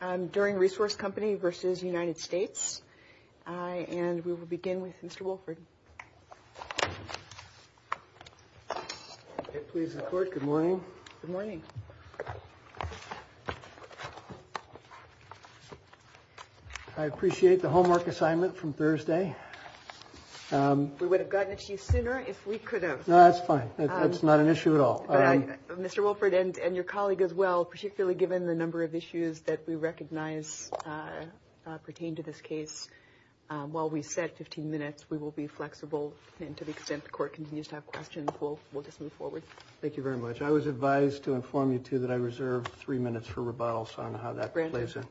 and we will begin with Mr. Wolford. Please report. Good morning. Good morning. I appreciate the homework assignment from Thursday. We would have gotten it to you sooner if we could have. No, that's fine. That's not an issue at all. Mr. Wolford and your colleague as well, particularly given the number of issues that we were discussing, we recognize pertain to this case. While we set 15 minutes, we will be flexible. And to the extent the court continues to have questions, we'll just move forward. Thank you very much. I was advised to inform you, too, that I reserved three minutes for rebuttal. So I don't know how that plays out.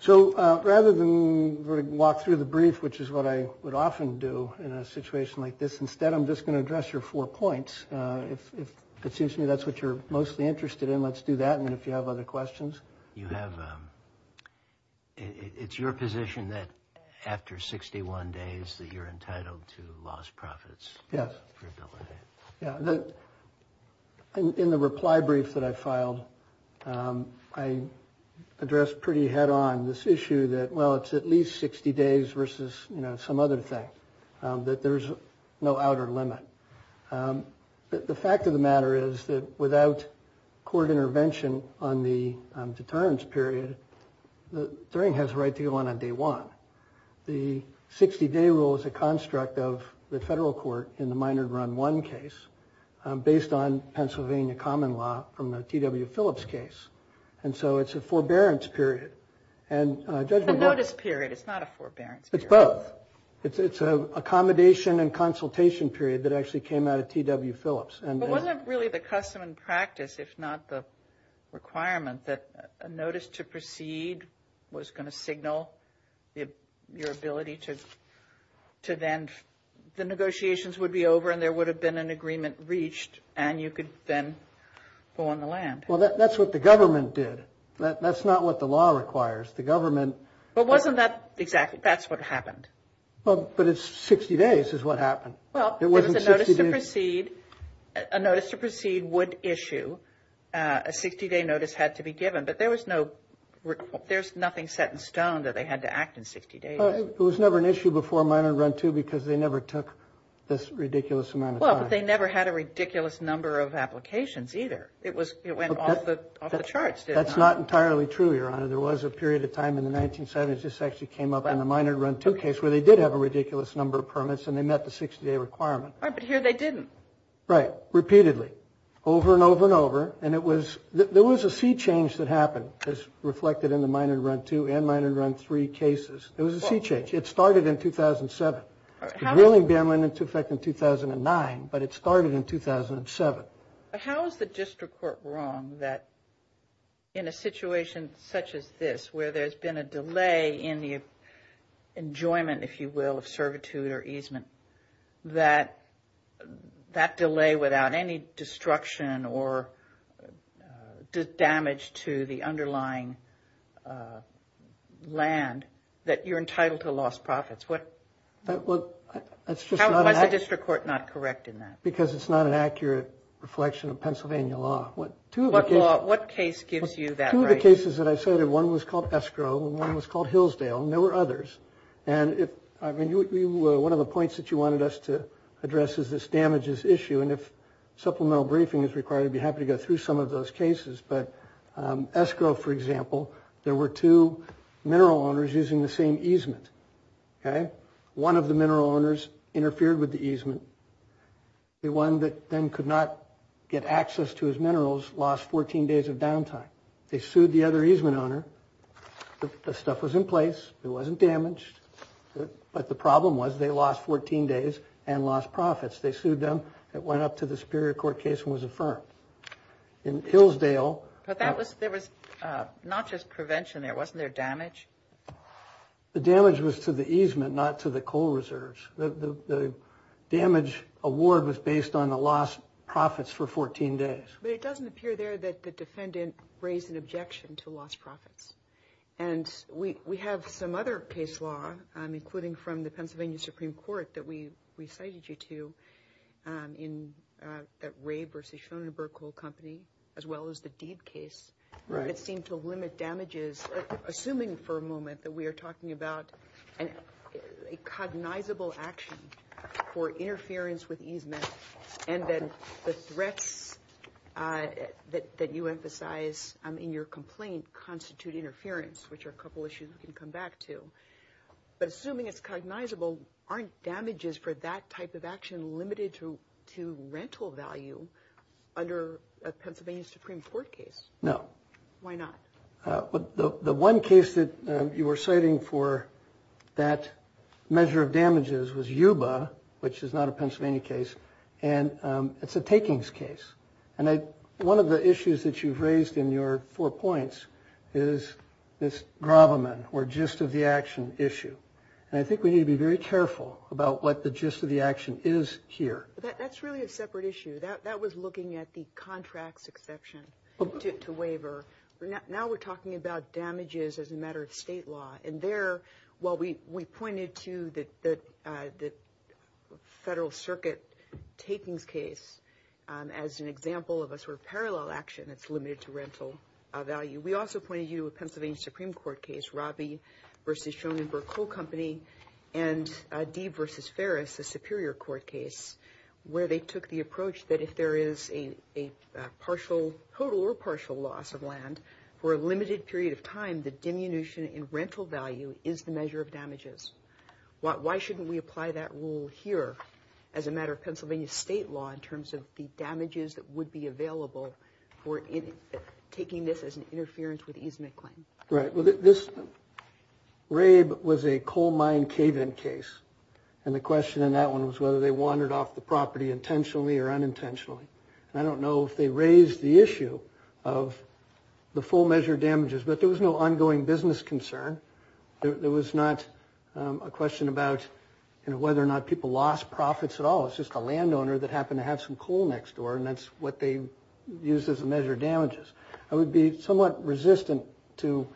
So rather than walk through the brief, which is what I would often do in a situation like this, instead I'm just going to address your four points. If it seems to me that's what you're mostly interested in, let's do that. And if you have other questions. It's your position that after 61 days that you're entitled to lost profits? Yes. In the reply brief that I filed, I addressed pretty head-on this issue that, well, it's at least 60 days versus some other thing, that there's no outer limit. But the fact of the matter is that without court intervention on the deterrence period, Thuring has the right to go on on day one. The 60-day rule is a construct of the federal court in the Minard Run 1 case, based on Pennsylvania common law from the T.W. Phillips case. And so it's a forbearance period. A notice period. It's not a forbearance period. It's both. It's an accommodation and consultation period that actually came out of T.W. Phillips. But wasn't it really the custom and practice, if not the requirement, that a notice to proceed was going to signal your ability to then, the negotiations would be over and there would have been an agreement reached and you could then go on the land? Well, that's what the government did. That's not what the law requires. But wasn't that exactly what happened? But it's 60 days is what happened. Well, a notice to proceed would issue. A 60-day notice had to be given. But there was nothing set in stone that they had to act in 60 days. It was never an issue before Minard Run 2 because they never took this ridiculous amount of time. Well, but they never had a ridiculous number of applications either. It went off the charts. That's not entirely true, Your Honor. There was a period of time in the 1970s this actually came up in the Minard Run 2 case where they did have a ridiculous number of permits and they met the 60-day requirement. But here they didn't. Right. Repeatedly. Over and over and over. And there was a sea change that happened as reflected in the Minard Run 2 and Minard Run 3 cases. It was a sea change. It started in 2007. The wheeling ban went into effect in 2009, but it started in 2007. How is the district court wrong that in a situation such as this where there's been a delay in the enjoyment, if you will, of servitude or easement, that that delay without any destruction or damage to the underlying land, that you're entitled to lost profits? Why is the district court not correct in that? Because it's not an accurate reflection of Pennsylvania law. What case gives you that right? Two of the cases that I cited. One was called Esco. One was called Hillsdale. And there were others. One of the points that you wanted us to address is this damages issue. And if supplemental briefing is required, I'd be happy to go through some of those cases. But Esco, for example, there were two mineral owners using the same easement. One of the mineral owners interfered with the easement. The one that then could not get access to his minerals lost 14 days of downtime. They sued the other easement owner. The stuff was in place. It wasn't damaged. But the problem was they lost 14 days and lost profits. They sued them. It went up to the Superior Court case and was affirmed. In Hillsdale – But there was not just prevention there. Wasn't there damage? The damage was to the easement, not to the coal reserves. The damage award was based on the lost profits for 14 days. But it doesn't appear there that the defendant raised an objection to lost profits. And we have some other case law, including from the Pennsylvania Supreme Court, that we cited you to at Ray v. Schoenberg Coal Company, as well as the Deed case, that seemed to limit damages, assuming for a moment that we are talking about a cognizable action for interference with easement, and then the threats that you emphasize in your complaint constitute interference, which are a couple of issues we can come back to. But assuming it's cognizable, aren't damages for that type of action limited to rental value under a Pennsylvania Supreme Court case? No. Why not? The one case that you were citing for that measure of damages was Yuba, which is not a Pennsylvania case, and it's a takings case. And one of the issues that you've raised in your four points is this gravamen, or gist of the action, issue. And I think we need to be very careful about what the gist of the action is here. That's really a separate issue. That was looking at the contracts exception to waiver. Now we're talking about damages as a matter of state law. And there, while we pointed to the Federal Circuit takings case as an example of a sort of parallel action that's limited to rental value, we also pointed you to a Pennsylvania Supreme Court case, Robbie v. Schoenberg Coal Company, and Deed v. Ferris, a Superior Court case, where they took the approach that if there is a partial, total or partial loss of land for a limited period of time, the diminution in rental value is the measure of damages. Why shouldn't we apply that rule here as a matter of Pennsylvania state law in terms of the damages that would be available for taking this as an interference with easement claims? Right. Well, this raid was a coal mine cave-in case. And the question in that one was whether they wandered off the property intentionally or unintentionally. I don't know if they raised the issue of the full measure of damages, but there was no ongoing business concern. There was not a question about whether or not people lost profits at all. It's just a landowner that happened to have some coal next door, and that's what they used as a measure of damages. I would be somewhat resistant to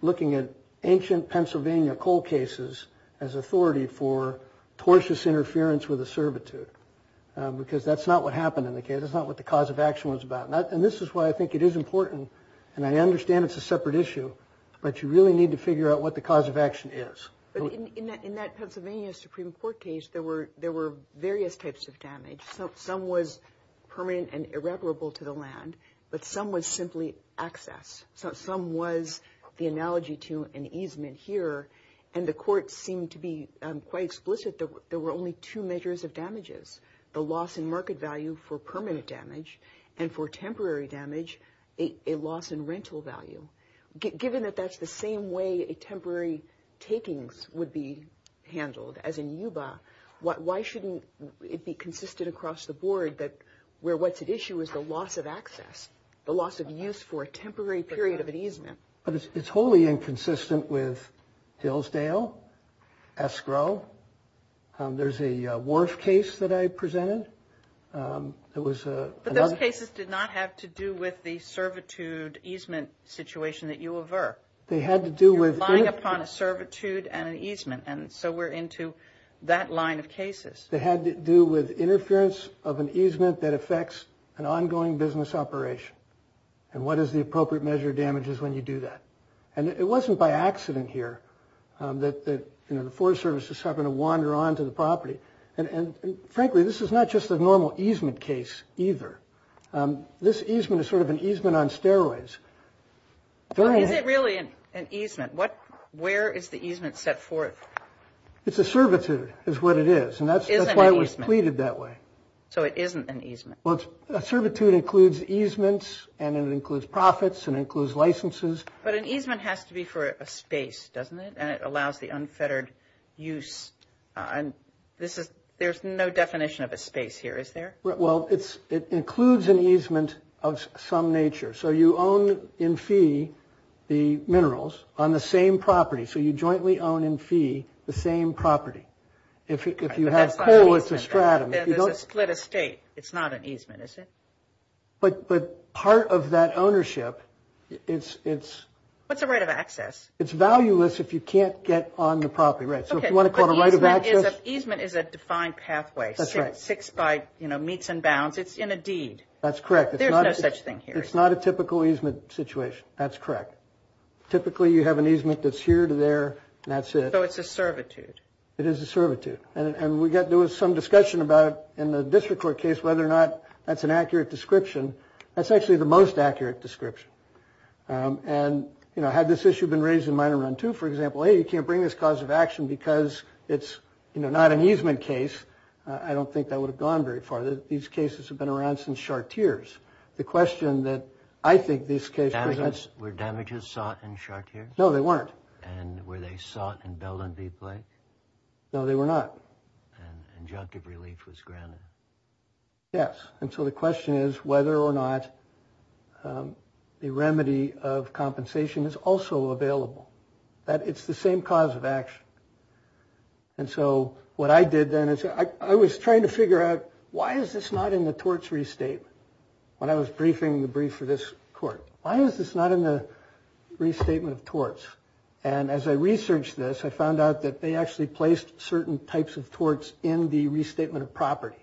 looking at ancient Pennsylvania coal cases as authority for tortuous interference with a servitude, because that's not what happened in the cave. That's not what the cause of action was about. And this is why I think it is important, and I understand it's a separate issue, but you really need to figure out what the cause of action is. In that Pennsylvania Supreme Court case, there were various types of damage. Some was permanent and irreparable to the land, but some was simply excess. Some was the analogy to an easement here, and the court seemed to be quite explicit that there were only two measures of damages, the loss in market value for permanent damage and for temporary damage, a loss in rental value. Given that that's the same way temporary takings would be handled, as in Yuba, why shouldn't it be consistent across the board where what's at issue is the loss of access, the loss of use for a temporary period of an easement? It's wholly inconsistent with Hillsdale, escrow. There's a wharf case that I presented. But those cases did not have to do with the servitude easement situation at Yuba. They had to do with... You're relying upon a servitude and an easement, and so we're into that line of cases. They had to do with interference of an easement that affects an ongoing business operation and what is the appropriate measure of damages when you do that. And it wasn't by accident here that the Forest Service just happened to wander onto the property. And frankly, this is not just a normal easement case either. This easement is sort of an easement on stairways. Is it really an easement? Where is the easement set forth? It's a servitude is what it is, and that's why it was treated that way. So it isn't an easement. A servitude includes easements, and it includes profits, and it includes licenses. But an easement has to be for a space, doesn't it? And it allows the unfettered use. There's no definition of a space here, is there? Well, it includes an easement of some nature. So you own in fee the minerals on the same property. So you jointly own in fee the same property. If you have coal, it's a stratum. It's a split estate. It's not an easement, is it? But part of that ownership, it's... What's a right of access? It's valueless if you can't get on the property, right? So if you want to call it a right of access... Okay, but easement is a defined pathway. That's right. It's fixed by, you know, meets and bounds. It's in a deed. That's correct. There's no such thing here. It's not a typical easement situation. That's correct. Typically, you have an easement that's here to there. That's it. So it's a servitude. It is a servitude. And we got... There was some discussion about, in the district court case, whether or not that's an accurate description. That's actually the most accurate description. And, you know, had this issue been raised in mine run, too, for example, hey, you can't bring this cause of action because it's, you know, not an easement case, I don't think that would have gone very far. These cases have been around since Sharteers. The question that I think this case presents... Were damages sought in Sharteers? No, they weren't. And were they sought in Bell and Deep Lake? No, they were not. And injunctive relief was granted? Yes. And so the question is whether or not the remedy of compensation is also available. That it's the same cause of action. And so what I did then is I was trying to figure out why is this not in the tortury state when I was briefing the brief for this court? Why is this not in the restatement of torts? And as I researched this, I found out that they actually placed certain types of torts in the restatement of property.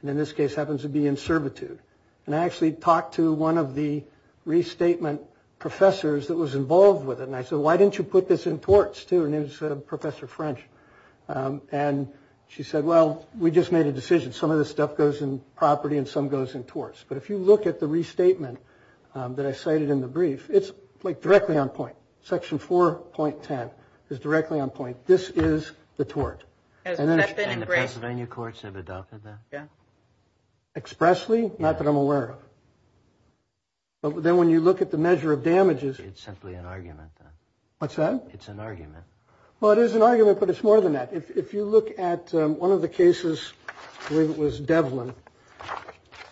And in this case, it happens to be in servitude. And I actually talked to one of the restatement professors that was involved with it. And I said, why didn't you put this in torts, too? And it was Professor French. And she said, well, we just made a decision. Some of this stuff goes in property and some goes in torts. But if you look at the restatement that I cited in the brief, it's directly on point. Section 4.10 is directly on point. This is the tort. And the Pennsylvania courts never doubted that? Yeah. Expressly? Not that I'm aware of. But then when you look at the measure of damages... It's simply an argument, then. What's that? It's an argument. Well, it is an argument, but it's more than that. If you look at one of the cases where it was Devlin,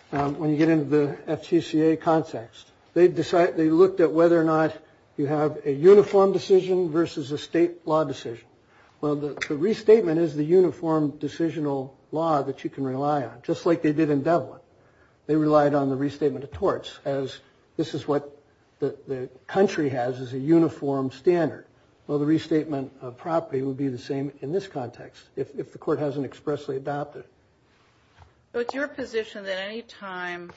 when you get into the FCCA context, they looked at whether or not you have a uniform decision versus a state law decision. Well, the restatement is the uniform decisional law that you can rely on, just like they did in Devlin. They relied on the restatement of torts, as this is what the country has as a uniform standard. Well, the restatement of property would be the same in this context, if the court hasn't expressly adopted it. So it's your position that any time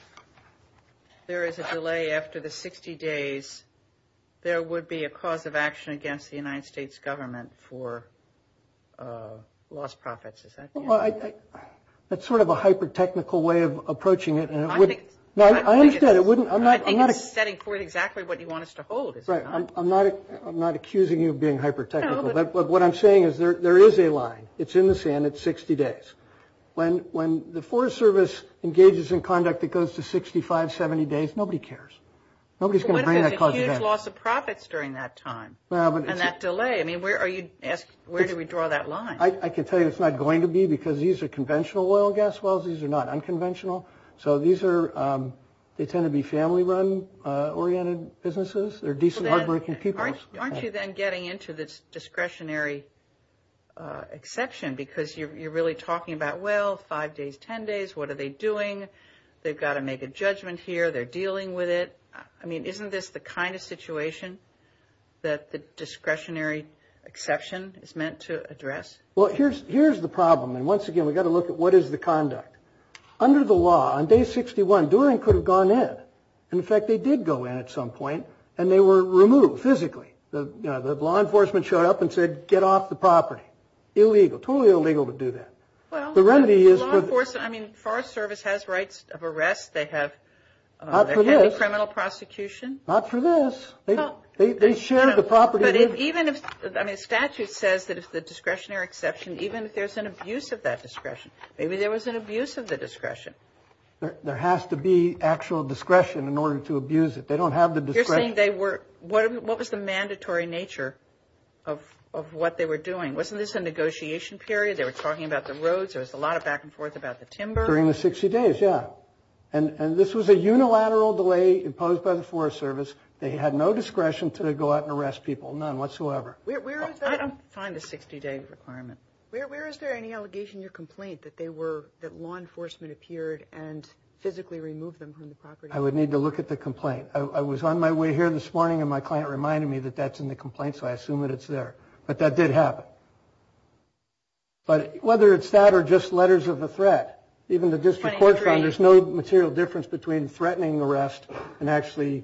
there is a delay after the 60 days, there would be a cause of action against the United States government for lost profits? That's sort of a hyper-technical way of approaching it. I understand. I think you're setting forth exactly what you want us to hold. I'm not accusing you of being hyper-technical. What I'm saying is there is a line. It's in the sand. It's 60 days. When the Forest Service engages in conduct that goes to 65, 70 days, nobody cares. Nobody's going to bring that cause to hand. What if there's a huge loss of profits during that time, and that delay? I mean, where do we draw that line? I can tell you it's not going to be, because these are conventional oil and gas wells. These are not unconventional. So they tend to be family-run oriented businesses. They're decent, hard-working people. Aren't you then getting into this discretionary exception, because you're really talking about, well, 5 days, 10 days, what are they doing? They've got to make a judgment here. They're dealing with it. I mean, isn't this the kind of situation that the discretionary exception is meant to address? Well, here's the problem, and once again, we've got to look at what is the conduct. Under the law, on day 61, During could have gone in. In fact, they did go in at some point, and they were removed physically. The law enforcement showed up and said, get off the property. Illegal. Totally illegal to do that. Well, the law enforcement, I mean, Forest Service has rights of arrest. They have criminal prosecution. Not for this. They shared the property. But even if, I mean, statute says that it's the discretionary exception, even if there's an abuse of that discretion. Maybe there was an abuse of the discretion. There has to be actual discretion in order to abuse it. They don't have the discretion. What was the mandatory nature of what they were doing? Wasn't this a negotiation period? They were talking about the roads. There was a lot of back and forth about the timber. During the 60 days, yeah. And this was a unilateral delay imposed by the Forest Service. They had no discretion to go out and arrest people. None whatsoever. Where is that? I don't find the 60 day requirement. Where is there any allegation or complaint that they were, that law enforcement appeared and physically removed them from the property? I would need to look at the complaint. I was on my way here this morning, and my client reminded me that that's in the complaint, so I assume that it's there. But that did happen. But whether it's that or just letters of a threat, even the district court found there's no material difference between threatening arrest and actually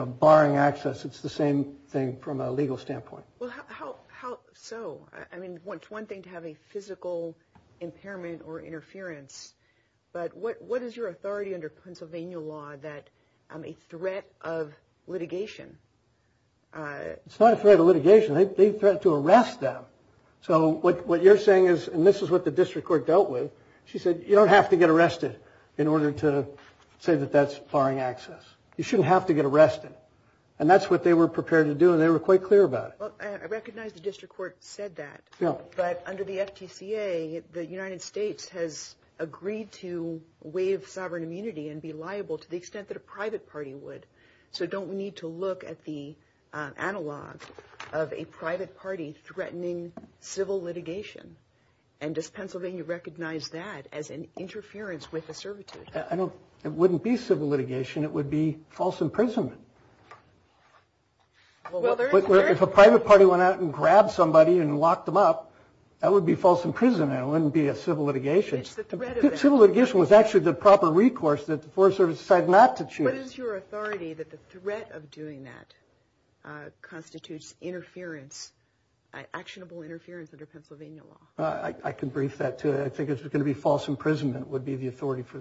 barring access. It's the same thing from a legal standpoint. So, I mean, it's one thing to have a physical impairment or interference. But what is your authority under Pennsylvania law that a threat of litigation? It's not a threat of litigation. They threatened to arrest them. So what you're saying is, and this is what the district court dealt with, she said, you don't have to get arrested in order to say that that's barring access. You shouldn't have to get arrested. And that's what they were prepared to do, and they were quite clear about it. I recognize the district court said that. Yeah. But under the FGCA, the United States has agreed to waive sovereign immunity and be liable to the extent that a private party would. So don't we need to look at the analogs of a private party threatening civil litigation? And does Pennsylvania recognize that as an interference with a servitude? It wouldn't be civil litigation. It would be false imprisonment. If a private party went out and grabbed somebody and locked them up, that would be false imprisonment. It wouldn't be a civil litigation. Civil litigation was actually the proper recourse that the foreign service decided not to choose. What is your authority that the threat of doing that constitutes interference, actionable interference under Pennsylvania law? I can brief that, too. I think if it's going to be false imprisonment, it would be the authority for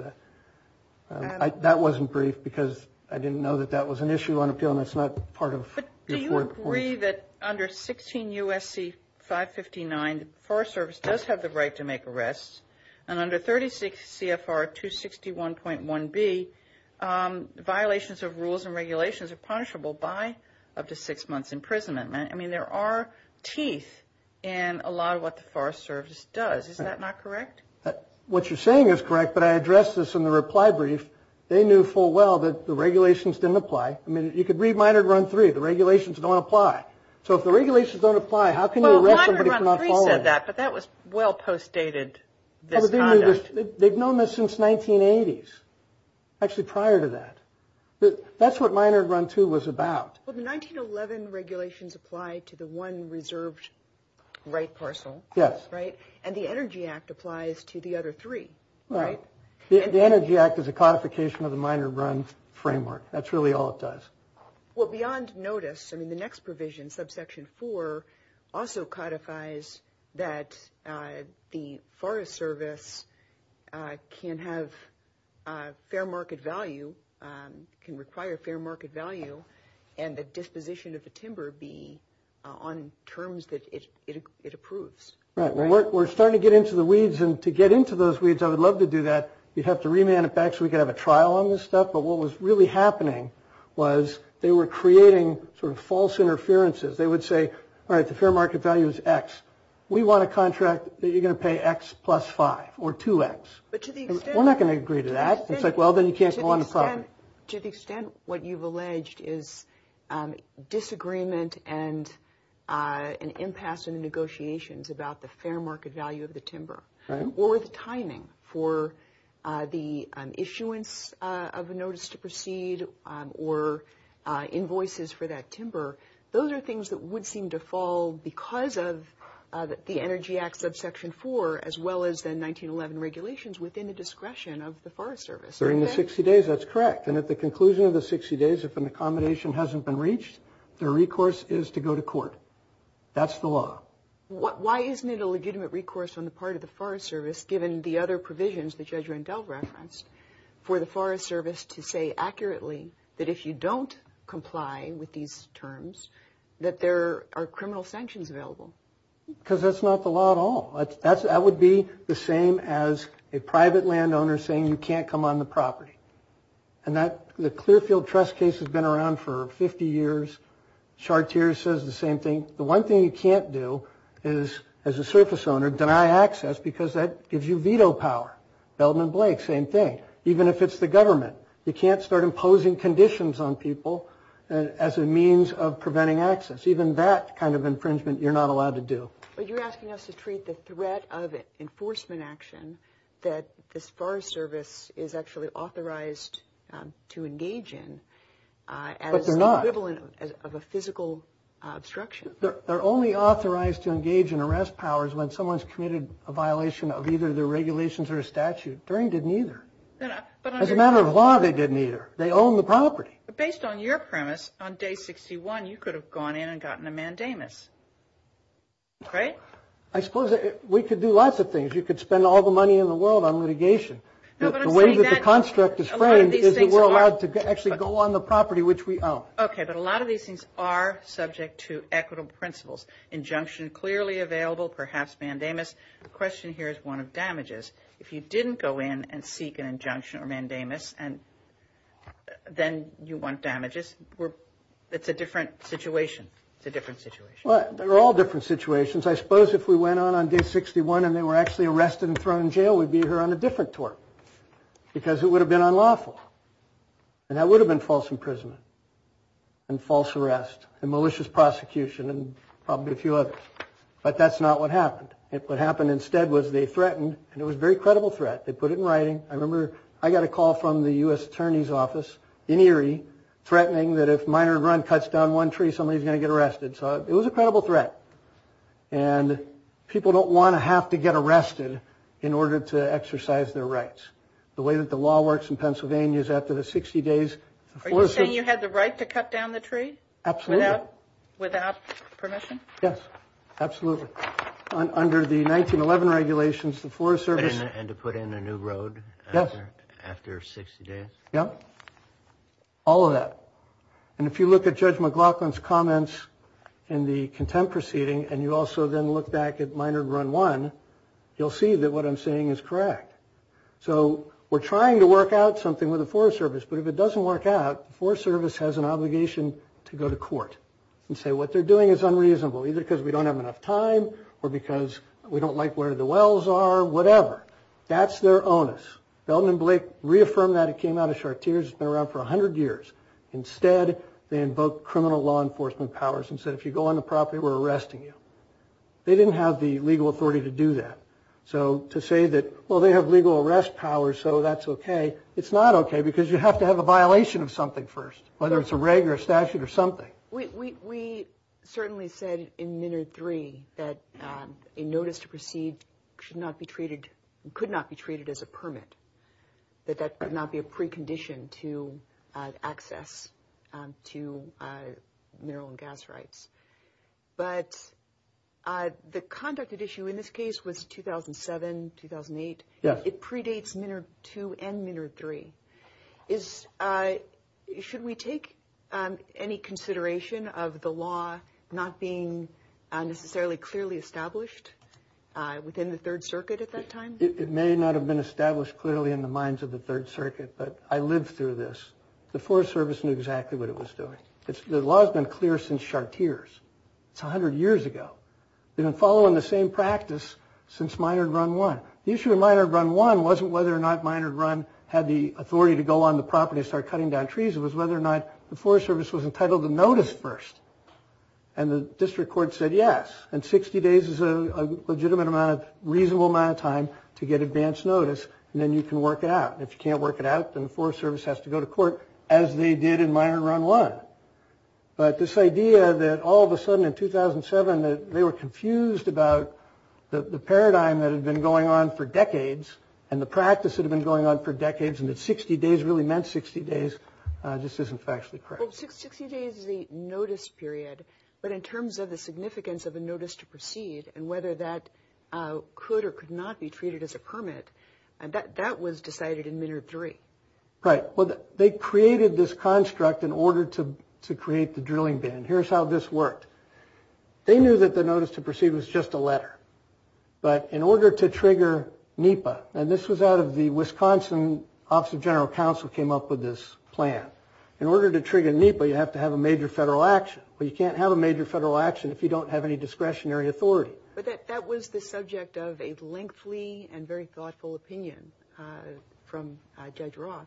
that. That wasn't brief, because I didn't know that that was an issue on appeal, and that's not part of your court report. But do you agree that under 16 USC 559, the Foreign Service does have the right to make arrests? And under 36 CFR 261.1b, violations of rules and regulations are punishable by up to six months imprisonment. I mean, there are teeth in a lot of what the Foreign Service does. Is that not correct? What you're saying is correct, but I addressed this in the reply brief. They knew full well that the regulations didn't apply. I mean, you could read Minor Grunt 3. The regulations don't apply. So if the regulations don't apply, how can you arrest somebody for not following them? Well, Minor Grunt 3 said that, but that was well postdated. The thing is, they've known this since 1980s, actually prior to that. That's what Minor Grunt 2 was about. Well, the 1911 regulations apply to the one reserved right parcel. Yes. Right? And the Energy Act applies to the other three. Right. The Energy Act is a codification of the Minor Grunt framework. That's really all it does. Well, beyond notice, I mean, the next provision, subsection 4, also codifies that the Forest Service can have fair market value, can require fair market value, and the disposition of the timber be on terms that it approves. Right. We're starting to get into the weeds. And to get into those weeds, I would love to do that. We'd have to remanufacture. We could have a trial on this stuff. But what was really happening was they were creating sort of false interferences. They would say, all right, the fair market value is x. We want a contract that you're going to pay x plus 5, or 2x. We're not going to agree to that. It's like, well, then you can't go on the project. To the extent what you've alleged is disagreement and an impasse in the negotiations about the fair market value of the timber, or the timing for the issuance of a notice to proceed, or invoices for that timber, those are things that would seem to fall because of the Energy Act, subsection 4, as well as the 1911 regulations within the discretion of the Forest Service. During the 60 days, that's correct. And at the conclusion of the 60 days, if an accommodation hasn't been reached, the recourse is to go to court. That's the law. Why isn't it a legitimate recourse on the part of the Forest Service, given the other provisions that Judge Rendell referenced, for the Forest Service to say accurately that if you don't comply with these terms, that there are criminal sanctions available? Because that's not the law at all. That would be the same as a private landowner saying, you can't come on the property. And the Clearfield Trust case has been around for 50 years. Chartier says the same thing. The one thing you can't do is, as a surface owner, deny access, because that gives you veto power. Belden and Blake, same thing. Even if it's the government, you can't start imposing conditions on people as a means of preventing access. Even that kind of infringement, you're not allowed to do. But you're asking us to treat the threat of enforcement action that the Forest Service is actually authorized to engage in as an equivalent of a physical obstruction. They're only authorized to engage in arrest powers when someone's committed a violation of either their regulations or a statute. Bering didn't either. As a matter of law, they didn't either. They own the property. But based on your premise, on day 61, you could have gone in and gotten a mandamus, right? I suppose we could do lots of things. You could spend all the money in the world on litigation. The way that the construct is framed is that we're allowed to actually go on the property which we own. OK, but a lot of these things are subject to equitable principles. Injunction clearly available, perhaps mandamus. The question here is one of damages. If you didn't go in and seek an injunction or mandamus, and then you want damages, it's a different situation. It's a different situation. Well, they're all different situations. I suppose if we went on on day 61 and they were actually arrested and thrown in jail, we'd be here on a different tour because it would have been unlawful. And that would have been false imprisonment and false arrest and malicious prosecution and probably a few others. But that's not what happened. What happened instead was they threatened. And it was a very credible threat. They put it in writing. I remember I got a call from the US Attorney's office in Erie threatening that if Minard Run cuts down one tree, somebody's going to get arrested. So it was a credible threat. And people don't want to have to get arrested in order to exercise their rights. The way that the law works in Pennsylvania is after the 60 days, the Forest Service Are you saying you had the right to cut down the tree? Absolutely. Without permission? Yes, absolutely. Under the 1911 regulations, the Forest Service And to put in a new road after 60 days? Yes. All of that. And if you look at Judge McLaughlin's comments in the contempt proceeding, and you also then look back at Minard Run 1, you'll see that what I'm saying is correct. So we're trying to work out something with the Forest Service. But if it doesn't work out, the Forest Service has an obligation to go to court and say what they're doing is unreasonable, either because we don't have enough time or because we don't like where the wells are, whatever. That's their onus. Feldman Blake reaffirmed that. It came out of Chartier's. It's been around for 100 years. Instead, they invoked criminal law enforcement powers and said, if you go on the property, we're arresting you. They didn't have the legal authority to do that. So to say that, well, they have legal arrest powers, so that's OK, it's not OK because you have to have a violation of something first, whether it's a regular statute or something. We certainly said in Minard 3 that a notice to proceed could not be treated as a permit, that that could not be a precondition to access to mineral and gas rights. But the conduct of issue in this case was 2007, 2008. Yes. It predates Minard 2 and Minard 3. Should we take any consideration of the law not being necessarily clearly established within the Third Circuit at that time? It may not have been established clearly in the minds of the Third Circuit, but I lived through this. The Forest Service knew exactly what it was doing. The law has been clear since Chartier's. It's 100 years ago. It's been following the same practice since Minard Run 1. The issue in Minard Run 1 wasn't whether or not Minard Run had the authority to go on the property and start cutting down trees. It was whether or not the Forest Service was entitled to notice first. And the district court said yes, and 60 days is a legitimate amount of reasonable amount of time to get advance notice, and then you can work it out. If you can't work it out, then the Forest Service has to go to court, as they did in Minard Run 1. But this idea that all of a sudden in 2007 that they were confused about the paradigm that had been going on for decades and the practice that had been going on for decades and that 60 days really meant 60 days just isn't factually correct. Well, 60 days is a notice period, but in terms of the significance of a notice to proceed and whether that could or could not be treated as a permit, that was decided in Minard 3. Right, well, they created this construct in order to create the drilling bin, and here's how this worked. They knew that the notice to proceed was just a letter, but in order to trigger NEPA, and this was out of the Wisconsin Office of General Counsel came up with this plan. In order to trigger NEPA, you'd have to have a major federal action, but you can't have a major federal action if you don't have any discretionary authority. But that was the subject of a lengthy and very thoughtful opinion from Judge Ross.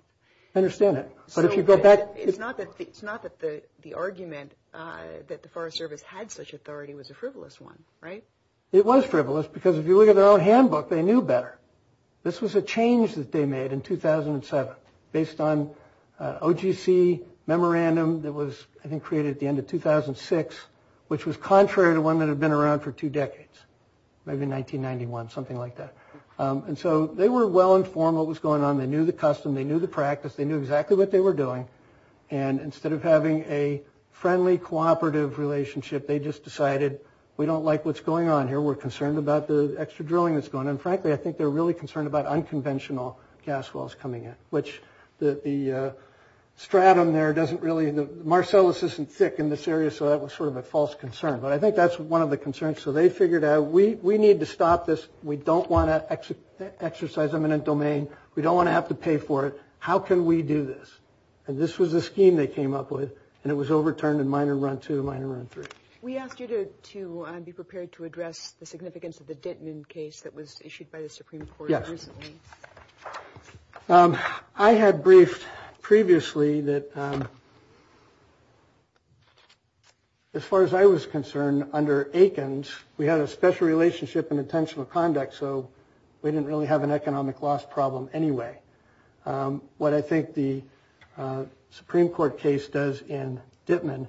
I understand that, but if you've got that- It's not that the argument that the Forest Service had such authority was a frivolous one, right? It was frivolous, because if you look at their own handbook, they knew better. This was a change that they made in 2007 based on OGC memorandum that was, I think, created at the end of 2006, which was contrary to one that had been around for two decades, maybe 1991, something like that. And so they were well-informed what was going on. They knew the custom. They knew the practice. They knew exactly what they were doing. And instead of having a friendly, cooperative relationship, they just decided, we don't like what's going on here. We're concerned about the extra drilling that's going on. And frankly, I think they're really concerned about unconventional gas wells coming in, which the stratum there doesn't really- the Marcellus isn't thick in this area, so that was sort of a false concern. But I think that's one of the concerns. So they figured out, we need to stop this. We don't want to exercise eminent domain. We don't want to have to pay for it. How can we do this? And this was the scheme they came up with. And it was overturned in minor run two, minor run three. We asked you to be prepared to address the significance of the Denton case that was issued by the Supreme Court recently. Yes. I had briefed previously that, as far as I was concerned, under Aikens, we had a special relationship and intention of conduct. So we didn't really have an economic loss problem anyway. What I think the Supreme Court case does in Dittman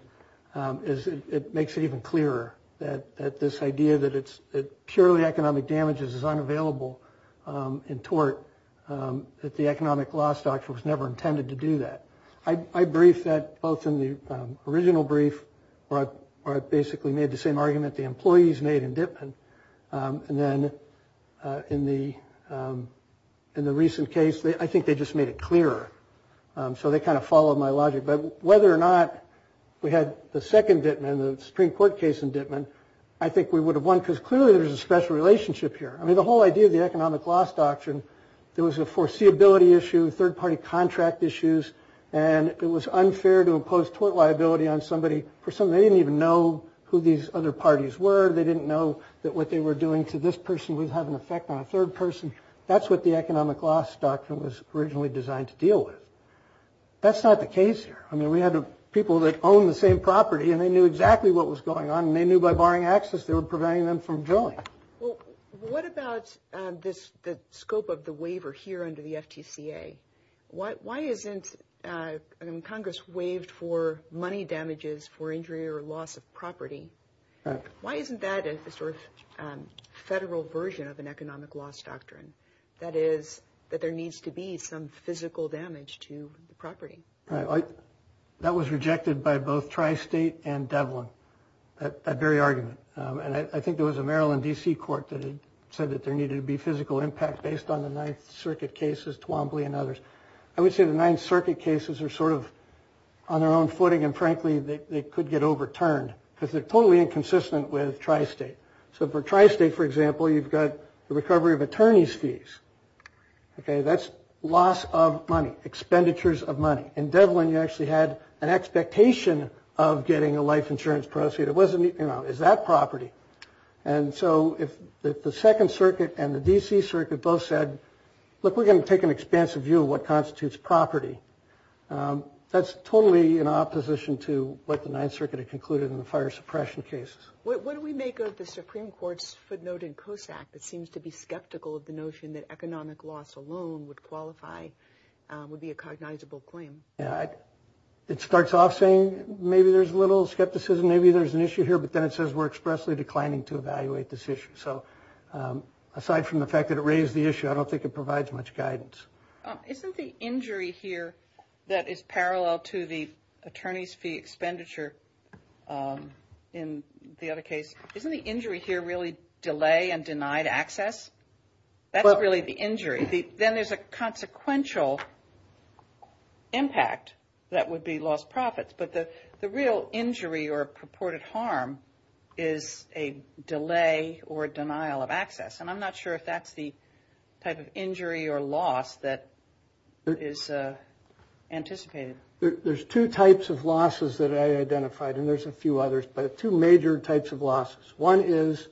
is it makes it even clearer that this idea that purely economic damages is unavailable in tort, that the economic loss doctrine was never intended to do that. I briefed that both in the original brief, where I basically made the same argument the employees made in Dittman. And then in the recent case, I think they just made it clearer. So they kind of followed my logic. But whether or not we had the second Dittman, the Supreme Court case in Dittman, I think we would have won. Because clearly, there's a special relationship here. I mean, the whole idea of the economic loss doctrine, there was a foreseeability issue, third party contract issues. And it was unfair to impose tort liability on somebody for something they didn't even know who these other parties were. They didn't know that what they were doing to this person would have an effect on a third person. That's what the economic loss doctrine was originally designed to deal with. That's not the case here. I mean, we had people that owned the same property, and they knew exactly what was going on. And they knew by barring access, they were preventing them from joining. Well, what about the scope of the waiver here under the FTCA? Why isn't Congress waived for money damages for injury or loss of property? Why isn't that a sort of federal version of an economic loss doctrine? That is, that there needs to be some physical damage to the property. Right. That was rejected by both Tri-State and Devlin, that very argument. And I think there was a Maryland DC court that had said that there needed to be physical impact based on the Ninth Circuit cases, Twombly and others. I would say the Ninth Circuit cases are sort of on their own footing. And frankly, they could get overturned. Because they're totally inconsistent with Tri-State. So for Tri-State, for example, you've got the recovery of attorney's fees. That's loss of money, expenditures of money. In Devlin, you actually had an expectation of getting a life insurance proceed. Is that property? And so if the Second Circuit and the DC Circuit both said, look, we're going to take an expansive view of what constitutes property, that's totally in opposition to what the Ninth Circuit had concluded in the fire suppression case. What do we make of the Supreme Court's footnote in Koshak that seems to be skeptical of the notion that economic loss alone would qualify, would be a cognizable claim? It starts off saying maybe there's a little skepticism. Maybe there's an issue here. But then it says we're expressly declining to evaluate this issue. So aside from the fact that it raised the issue, I don't think it provides much guidance. Isn't the injury here that is parallel to the attorney's expenditure in the other case? Isn't the injury here really delay and denied access? That's not really the injury. Then there's a consequential impact that would be lost profits. But the real injury or purported harm is a delay or denial of access. And I'm not sure if that's the type of injury or loss that is anticipated. There's two types of losses that I identified. And there's a few others. But two major types of losses. One is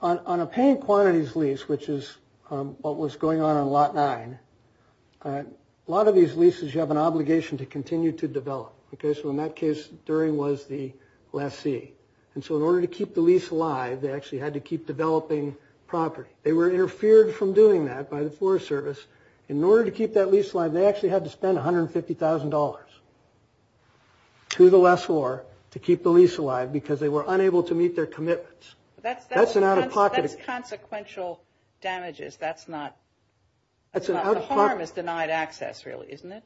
on a paying quantities lease, which is what was going on in lot nine, a lot of these leases, you have an obligation to continue to develop. So in that case, Dury was the lessee. And so in order to keep the lease alive, they actually had to keep developing property. They were interfered from doing that by the Forest Service. In order to keep that lease alive, they actually had to spend $150,000 to the lessor to keep the lease alive, because they were unable to meet their commitments. That's an out-of-pocket expense. That's consequential damages. The harm is denied access, really, isn't it?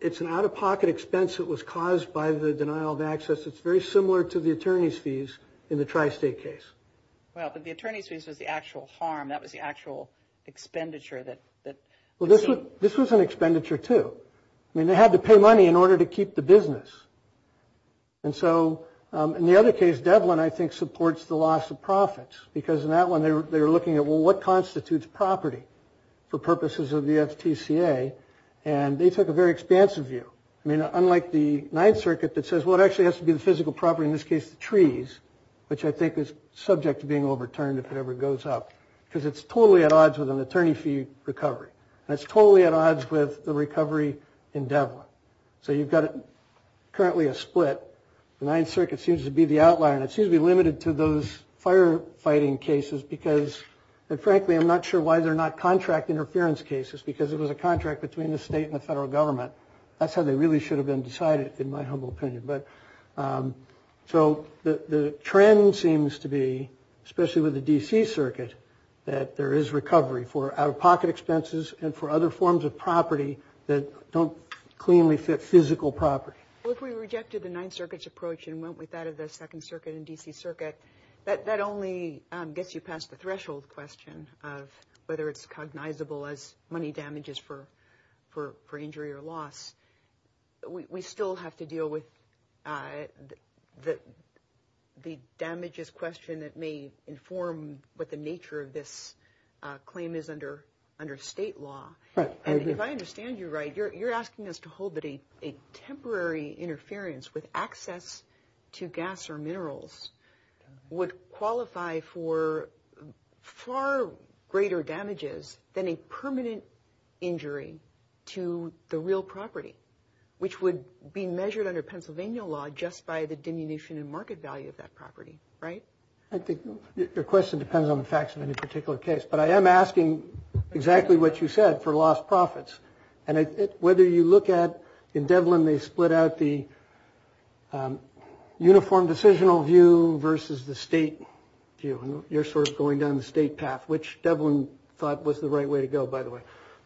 It's an out-of-pocket expense that was caused by the denial of access. It's very similar to the attorney's fees in the tri-state case. The attorney's fees was the actual harm. That was the actual expenditure. Well, this was an expenditure, too. I mean, they had to pay money in order to keep the business. And so in the other case, Devlin, I think, supports the loss of profits. Because in that one, they were looking at, well, what constitutes property for purposes of the FTCA? And they took a very expansive view. I mean, unlike the Ninth Circuit that says, well, it actually has to be the physical property, in this case, the trees, which I think is subject to being overturned if it ever goes up. Because it's totally at odds with an attorney fee recovery. And it's totally at odds with the recovery in Devlin. So you've got, currently, a split. The Ninth Circuit seems to be the outlier. And it seems to be limited to those firefighting cases because, frankly, I'm not sure why they're not contract interference cases. Because it was a contract between the state and the federal government. That's how they really should have been decided, in my humble opinion. So the trend seems to be, especially with the D.C. Circuit, that there is recovery for out-of-pocket expenses and for other forms of property that don't cleanly fit physical property. Well, if we rejected the Ninth Circuit's approach and went with that of the Second Circuit and D.C. Circuit, that only gets you past the threshold question of whether it's cognizable as money damages for injury or loss. We still have to deal with the damages question that may inform what the nature of this claim is under state law. If I understand you right, you're asking us to hold that a temporary interference with access to gas or minerals would qualify for far greater damages than a permanent injury to the real property, which would be measured under Pennsylvania law just by the diminution in market value of that property, right? I think your question depends on the facts of any particular case. But I am asking exactly what you said for lost profits. And whether you look at, in Devlin, they split out the uniform decisional view versus the state view. You're sort of going down the state path, which Devlin thought was the right way to go, by the way.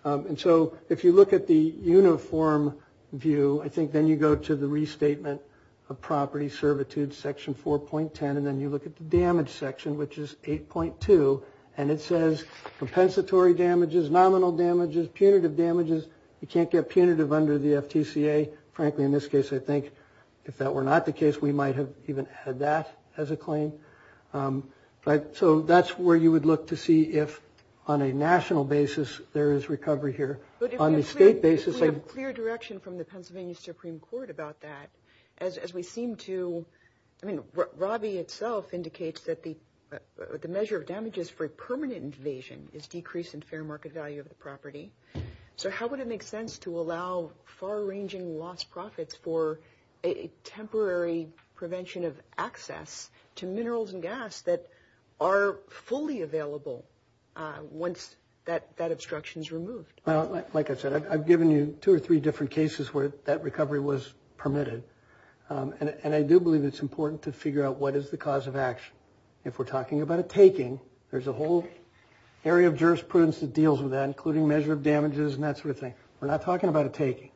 And so if you look at the uniform view, I think then you go to the restatement of property servitude, section 4.10. And then you look at the damage section, which is 8.2. And it says compensatory damages, nominal damages, punitive damages. You can't get punitive under the FTCA. Frankly, in this case, I think if that were not the case, we might have even added that as a claim. So that's where you would look to see if, on a national basis, there is recovery here. But if you have clear direction from the Pennsylvania Supreme Court about that, as we seem to, I mean, Robbie itself indicates that the measure of damages for permanent invasion is decrease in fair market value of the property. So how would it make sense to allow far-ranging lost profits for a temporary prevention of access to minerals and gas that are fully available once that obstruction is removed? Well, like I said, I've given you two or three different cases where that recovery was permitted. And I do believe it's important to figure out what is the cause of action. If we're talking about a taking, there's a whole area of jurisprudence that deals with that, including measure of damages and that sort of thing. We're not talking about a taking.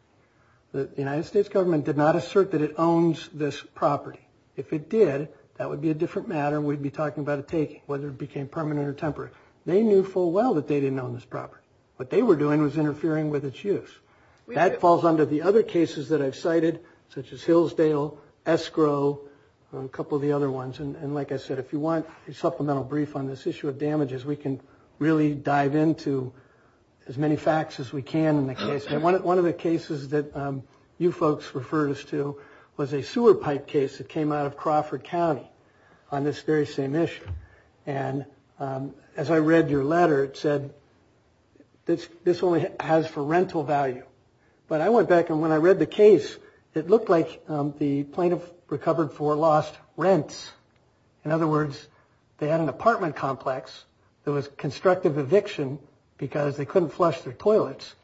The United States government did not assert that it owns this property. If it did, that would be a different matter. We'd be talking about a taking, whether it became permanent or temporary. They knew full well that they didn't own this property. What they were doing was interfering with its use. That falls under the other cases that I've cited, such as Hillsdale, Escrow, and a couple of the other ones. And like I said, if you want a supplemental brief on this issue of damages, we can really dive into as many facts as we can in the case. One of the cases that you folks referred us to was a sewer pipe case that came out of Crawford County on this very same issue. And as I read your letter, it said, this only has for rental value. But I went back, and when I read the case, it looked like the plaintiff recovered for lost rents. In other words, they had an apartment complex that was constructive eviction because they couldn't flush their toilets.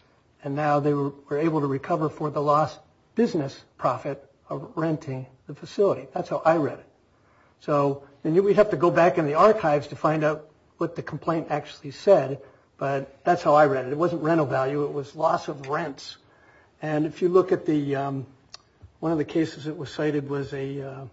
And now they were able to recover for the lost business profit of renting the facility. That's how I read it. So we'd have to go back in the archives to find out what the complaint actually said. But that's how I read it. It wasn't rental value. It was loss of rents. And if you look at one of the cases that was cited, it was a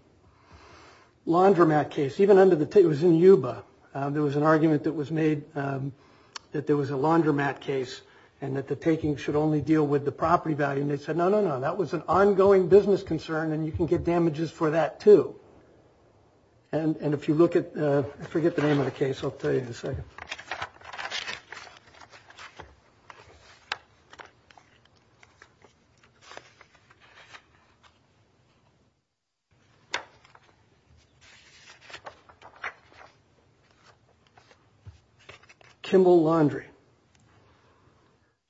laundromat case. It was in Yuba. There was an argument that was made that there was a laundromat case and that the taking should only deal with the property value. And they said, no, no, no, that was an ongoing business concern, and you can get damages for that, too. And if you look at, I forget the name of the case. I'll tell you in a second. Kimball Laundry.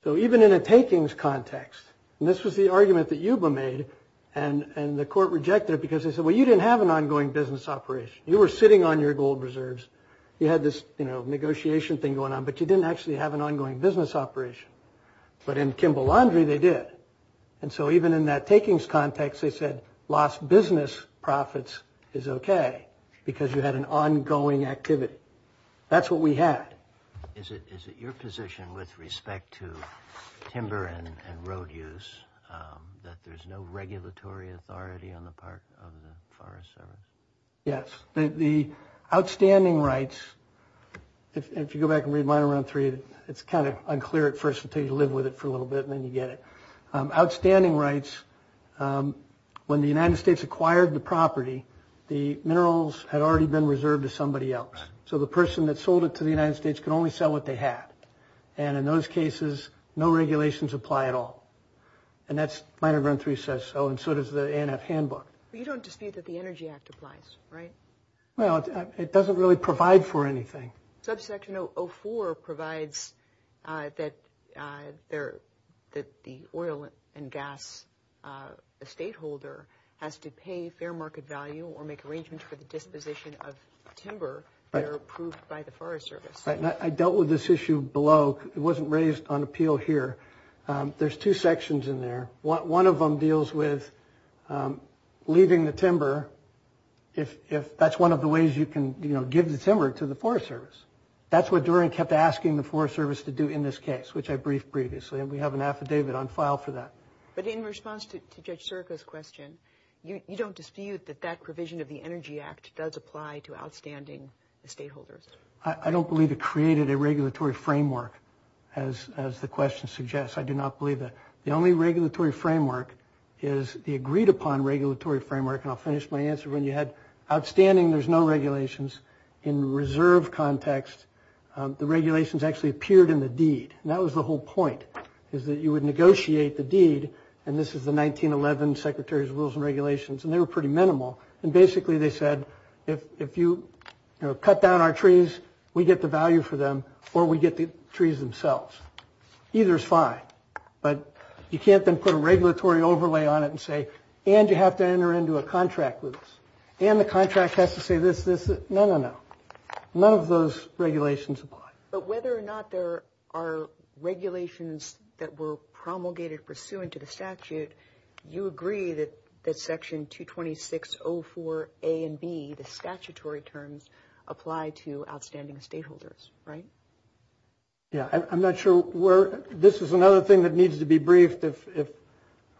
So even in a takings context, and this was the argument that Yuba made, and the court rejected it because they said, well, you didn't have an ongoing business operation. You were sitting on your gold reserves. You had this negotiation thing going on, but you didn't actually have an ongoing business operation. But in Kimball Laundry, they did. And so even in that takings context, they said lost business profits is OK because you had an ongoing activity. That's what we had. Is it your position with respect to timber and road use that there's no regulatory authority on the part of the Forest Service? Yes. The outstanding rights, if you go back and read my round three, it's kind of unclear at first until you live with it for a little bit, and then you get it. Outstanding rights, when the United States acquired the property, the minerals had already been reserved to somebody else. So the person that sold it to the United States can only sell what they have. And in those cases, no regulations apply at all. And that's my round three says so, and so does the ANF handbook. But you don't dispute that the Energy Act applies, right? Well, it doesn't really provide for anything. Subsection 04 provides that the oil and gas estateholder has to pay fair market value or make arrangements for the disposition of timber that are approved by the Forest Service. I dealt with this issue below. It wasn't raised on appeal here. There's two sections in there. One of them deals with leaving the timber if that's one of the ways you can give the timber to the Forest Service. That's what Duran kept asking the Forest Service to do in this case, which I briefed previously. And we have an affidavit on file for that. But in response to Judge Serco's question, you don't dispute that that provision of the Energy Act does apply to outstanding estateholders. I don't believe it created a regulatory framework, as the question suggests. I do not believe that. The only regulatory framework is the agreed-upon regulatory framework. And I'll finish my answer when you have outstanding, there's no regulations. In reserve context, the regulations actually appeared in the deed. And that was the whole point, is that you would negotiate the deed. And this is the 1911 Secretary's Rules and Regulations. And they were pretty minimal. And basically, they said, if you cut down our trees, we get the value for them, or we get the trees themselves. Either is fine. But you can't then put a regulatory overlay on it and say, and you have to enter into a contract with us. And the contract has to say this, this, this. No, no, no. None of those regulations apply. But whether or not there are regulations that were promulgated pursuant to the statute, you agree that Section 226.04a and b, the statutory terms, apply to outstanding stakeholders, right? I'm not sure. This is another thing that needs to be briefed if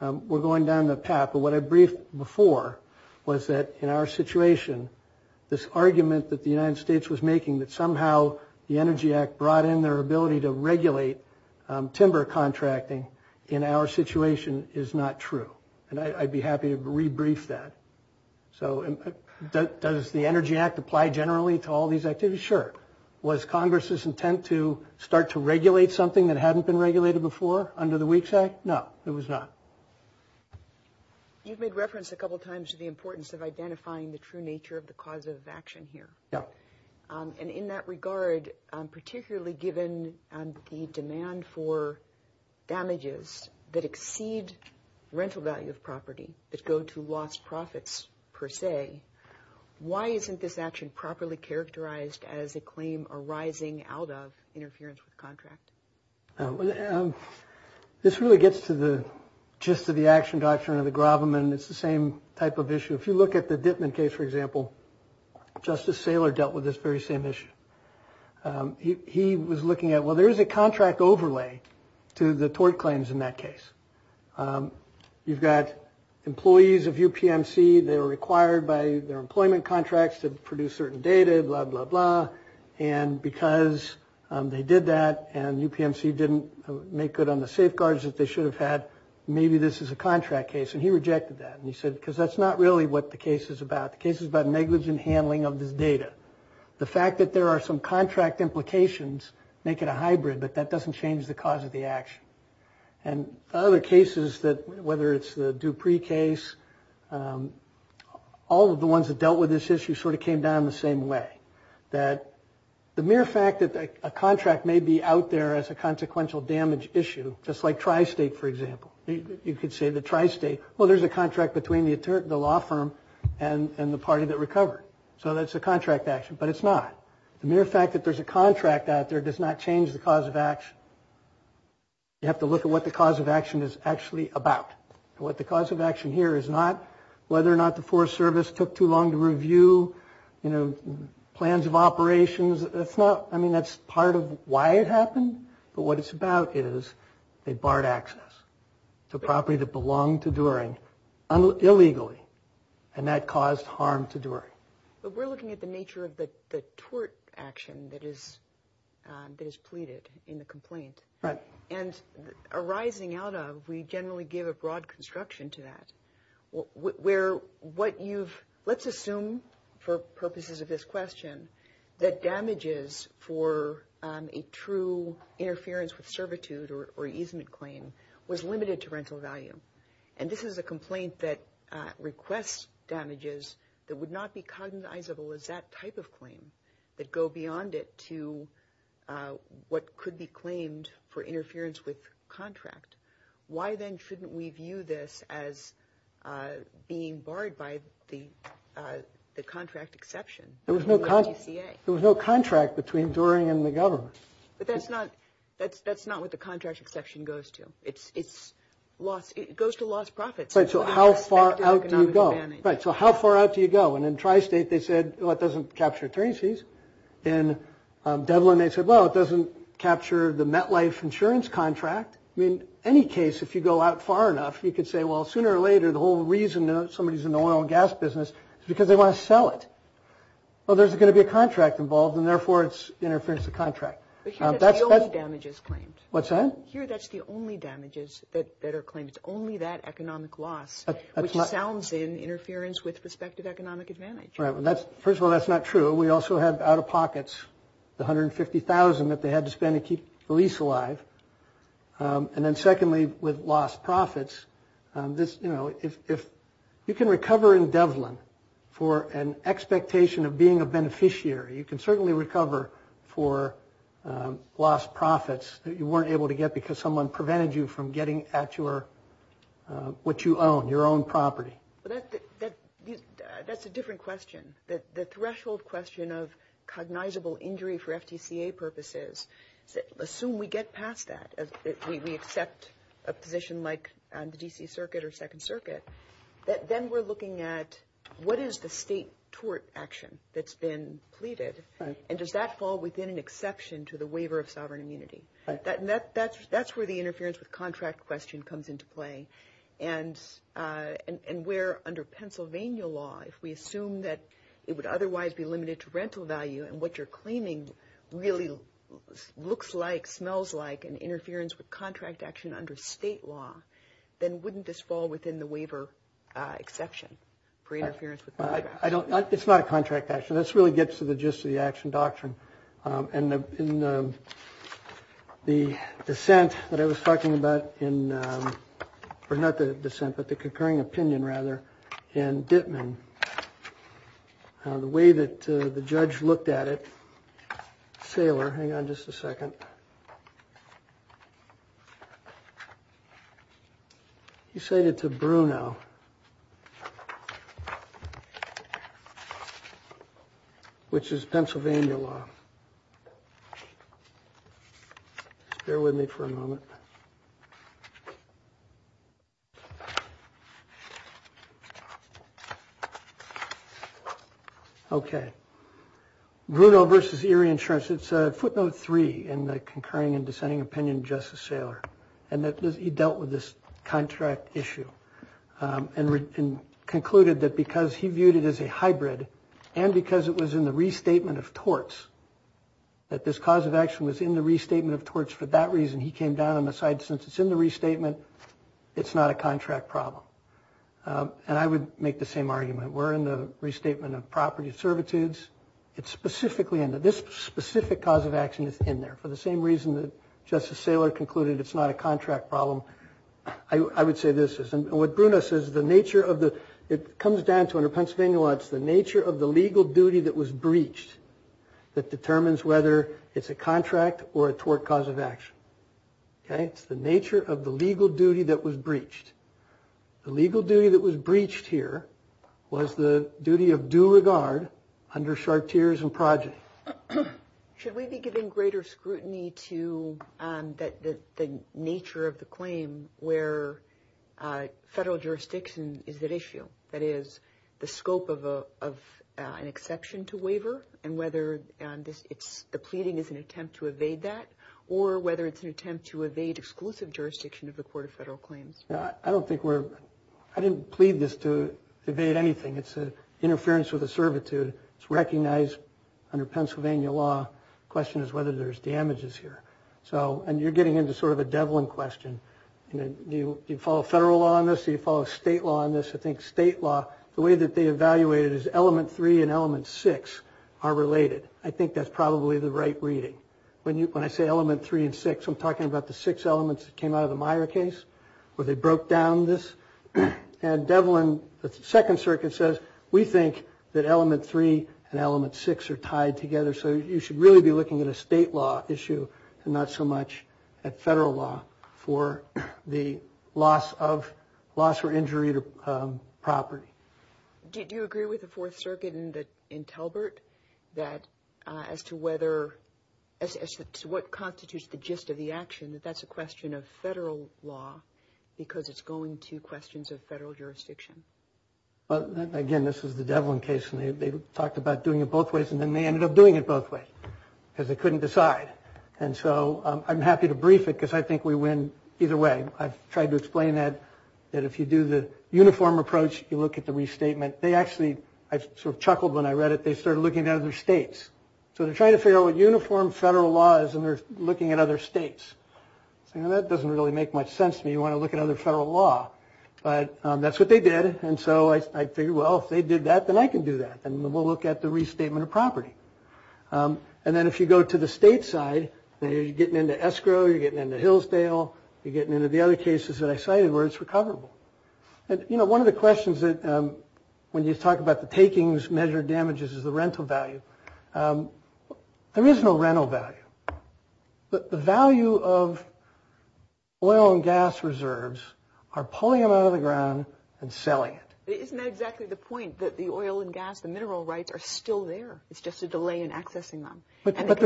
we're going down that path. But what I briefed before was that, in our situation, this argument that the United States was making, that somehow the Energy Act brought in their ability to regulate timber contracting, in our situation, is not true. And I'd be happy to rebrief that. So does the Energy Act apply generally to all these activities? Sure. Was Congress's intent to start to regulate something that hadn't been regulated before under the WEEKS Act? No, it was not. You've made reference a couple times to the importance of identifying the true nature of the causes of action here. And in that regard, particularly given the demand for damages that exceed rental value of property, that go to lost profits, per se, why isn't this action properly characterized as a claim arising out of interference with contract? This really gets to the gist of the action doctrine of the Grobman. It's the same type of issue. If you look at the Dittman case, for example, Justice Saylor dealt with this very same issue. He was looking at, well, there is a contract overlay to the tort claims in that case. You've got employees of UPMC. They were required by their employment contracts to produce certain data, blah, blah, blah. And because they did that and UPMC didn't make good on the safeguards that they should have had, maybe this is a contract case. And he rejected that. And he said, because that's not really what the case is about. The case is about negligent handling of the data. The fact that there are some contract implications make it a hybrid, but that doesn't change the cause of the action. And other cases, whether it's the Dupree case, all of the ones that dealt with this issue sort of came down the same way, that the mere fact that a contract may be out there as a consequential damage issue, just like Tri-State, for example. You could say that Tri-State, well, here's a contract between the law firm and the party that recovered. So that's a contract action, but it's not. The mere fact that there's a contract out there does not change the cause of action. You have to look at what the cause of action is actually about. What the cause of action here is not whether or not the Forest Service took too long to review plans of operations. I mean, that's part of why it happened. But what it's about is they barred access to property that belonged to Doering illegally, and that caused harm to Doering. But we're looking at the nature of the tort action that is pleaded in the complaint. Right. And arising out of, we generally give a broad construction to that, where what you've, let's assume, for purposes of this question, that damages for a true interference with servitude or easement claim was limited to rental value. And this is a complaint that requests damages that would not be cognizable as that type of claim, that go beyond it to what could be claimed for interference with contract. Why, then, shouldn't we view this as being barred by the contract exception? There was no contract between Doering and the government. But that's not what the contract exception goes to. It goes to lost profits. So how far out do you go? So how far out do you go? And in Tri-State, they said, well, it doesn't capture train fees. In Devlin, they said, well, it doesn't capture the MetLife insurance contract. In any case, if you go out far enough, you could say, well, sooner or later, the whole reason that somebody's in the oil and gas business is because they want to sell it. Well, there's going to be a contract involved, and therefore, it's interference with contract. But here, that's the only damages claim. What's that? Here, that's the only damages that are claimed. It's only that economic loss, which sounds in interference with prospective economic advantage. Right. First of all, that's not true. We also have out-of-pockets, the $150,000 that they had to spend to keep the lease alive. And then secondly, with lost profits, if you can recover in Devlin for an expectation of being a beneficiary, you can certainly recover for lost profits. You weren't able to get because someone prevented you from getting at what you own, your own property. Well, that's a different question. The threshold question of cognizable injury for FTCA purposes, assume we get past that. We accept a position like the DC Circuit or Second Circuit. Then we're looking at, what is the state tort action that's been pleaded? And does that fall within an exception to the waiver of sovereign immunity? That's where the interference with contract question comes into play. And where, under Pennsylvania law, if we assume that it would otherwise be limited to rental value, and what you're claiming really looks like, smells like an interference with contract action under state law, then wouldn't this fall within the waiver exception for interference with contract action? It's not a contract action. This really gets to the gist of the action doctrine. And the dissent that I was talking about in, or not the dissent, but the concurring opinion, rather, in Dittman, the way that the judge looked at it, Saylor, hang on just a second. You said it's a Bruno, which is Pennsylvania law. Bear with me for a moment. OK. Bruno versus Erie Insurance. Yes, it's footnote three in the concurring and dissenting opinion of Justice Saylor, and that he dealt with this contract issue, and concluded that because he viewed it as a hybrid, and because it was in the restatement of torts, that this cause of action was in the restatement of torts for that reason, he came down on the side, since it's in the restatement, it's not a contract problem. And I would make the same argument. We're in the restatement of property servitudes. This specific cause of action is in there, for the same reason that Justice Saylor concluded it's not a contract problem. I would say this. And what Bruno says, it comes down to, under Pennsylvania law, it's the nature of the legal duty that was breached that determines whether it's a contract or a tort cause of action. It's the nature of the legal duty that was breached. The legal duty that was breached here was the duty of due regard under charters and projects. Should we be giving greater scrutiny to the nature of the claim where federal jurisdiction is at issue? That is, the scope of an exception to waiver, and whether the pleading is an attempt to evade that, or whether it's an attempt to evade exclusive jurisdiction of the Court of Federal Claims? I didn't plead this to evade anything. It's an interference with a servitude. It's recognized under Pennsylvania law. The question is whether there's damages here. And you're getting into sort of a Devlin question. Do you follow federal law on this? Do you follow state law on this? I think state law, the way that they evaluate it is element three and element six are related. I think that's probably the right reading. When I say element three and six, I'm talking about the six elements that came out of the Meyer case, where they broke down this. And Devlin, the Second Circuit says, we think that element three and element six are tied together. So you should really be looking at a state law issue and not so much at federal law for the loss or injury to property. Do you agree with the Fourth Circuit in Talbert as to what constitutes the gist of the action, that that's a question of federal law because it's going to questions of federal jurisdiction? Well, again, this is the Devlin case. And they talked about doing it both ways. And then they ended up doing it both ways because they couldn't decide. And so I'm happy to brief it because I think we win either way. I've tried to explain that if you do the uniform approach, you look at the restatement. I sort of chuckled when I read it. They started looking at other states. So they're trying to figure out what uniform federal law is. And they're looking at other states. And that doesn't really make much sense to me. You want to look at other federal law. But that's what they did. And so I figured, well, if they did that, then I can do that. And we'll look at the restatement of property. And then if you go to the state side, you're getting into escrow. You're getting into Hillsdale. You're getting into the other cases that I cited where it's recoverable. And one of the questions that when you talk about the takings measured damages is the rental value. There is no rental value. But the value of oil and gas reserves are pulling them out of the ground and selling it. Isn't that exactly the point, that the oil and gas, the mineral rights are still there. It's just a delay in accessing them. But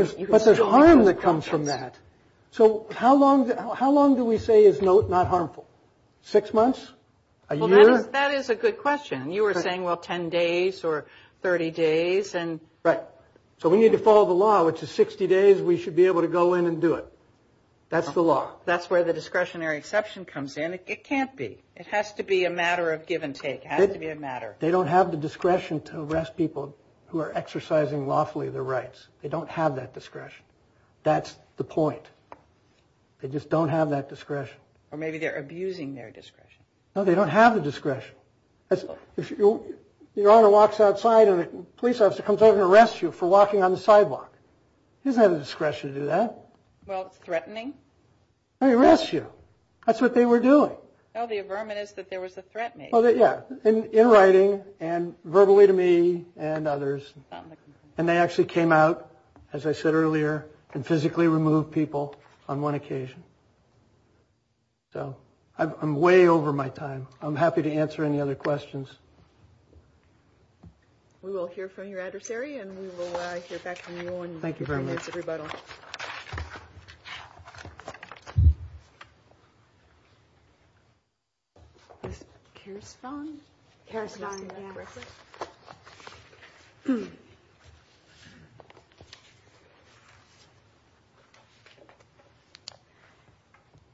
there's harm that comes from that. So how long do we say is not harmful? Six months? A year? That is a good question. You were saying, well, 10 days or 30 days. Right. So we need to follow the law, which is 60 days, we should be able to go in and do it. That's the law. That's where the discretionary exception comes in. It can't be. It has to be a matter of give and take. It has to be a matter. They don't have the discretion to arrest people who are exercising lawfully their rights. They don't have that discretion. That's the point. Or maybe they're abusing their discretion. No, they don't have the discretion. If your owner walks outside and a police officer comes over and arrests you for walking on the sidewalk, he doesn't have the discretion to do that. Well, it's threatening. They arrest you. That's what they were doing. Well, the affirmation is that there was a threatening. Well, yeah. In writing and verbally to me and others. And they actually came out, as I said earlier, and physically removed people on one occasion. So I'm way over my time. I'm happy to answer any other questions. We will hear from your adversary and we will hear back from you. Thank you very much.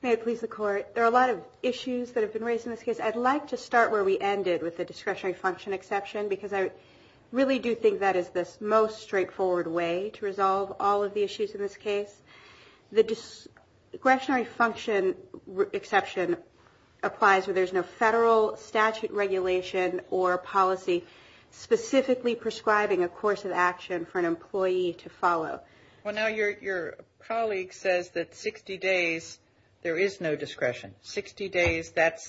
May it please the Court. There are a lot of issues that have been raised in this case. I'd like to start where we ended, with the discretionary function exception, because I really do think that is the most straightforward way to resolve all of the issues in this case. The discretionary function exception applies where there's no federal statute regulation or policy specifically prescribing a course of action for an employee to follow. Well, now your colleague says that 60 days there is no discretion. Sixty days, that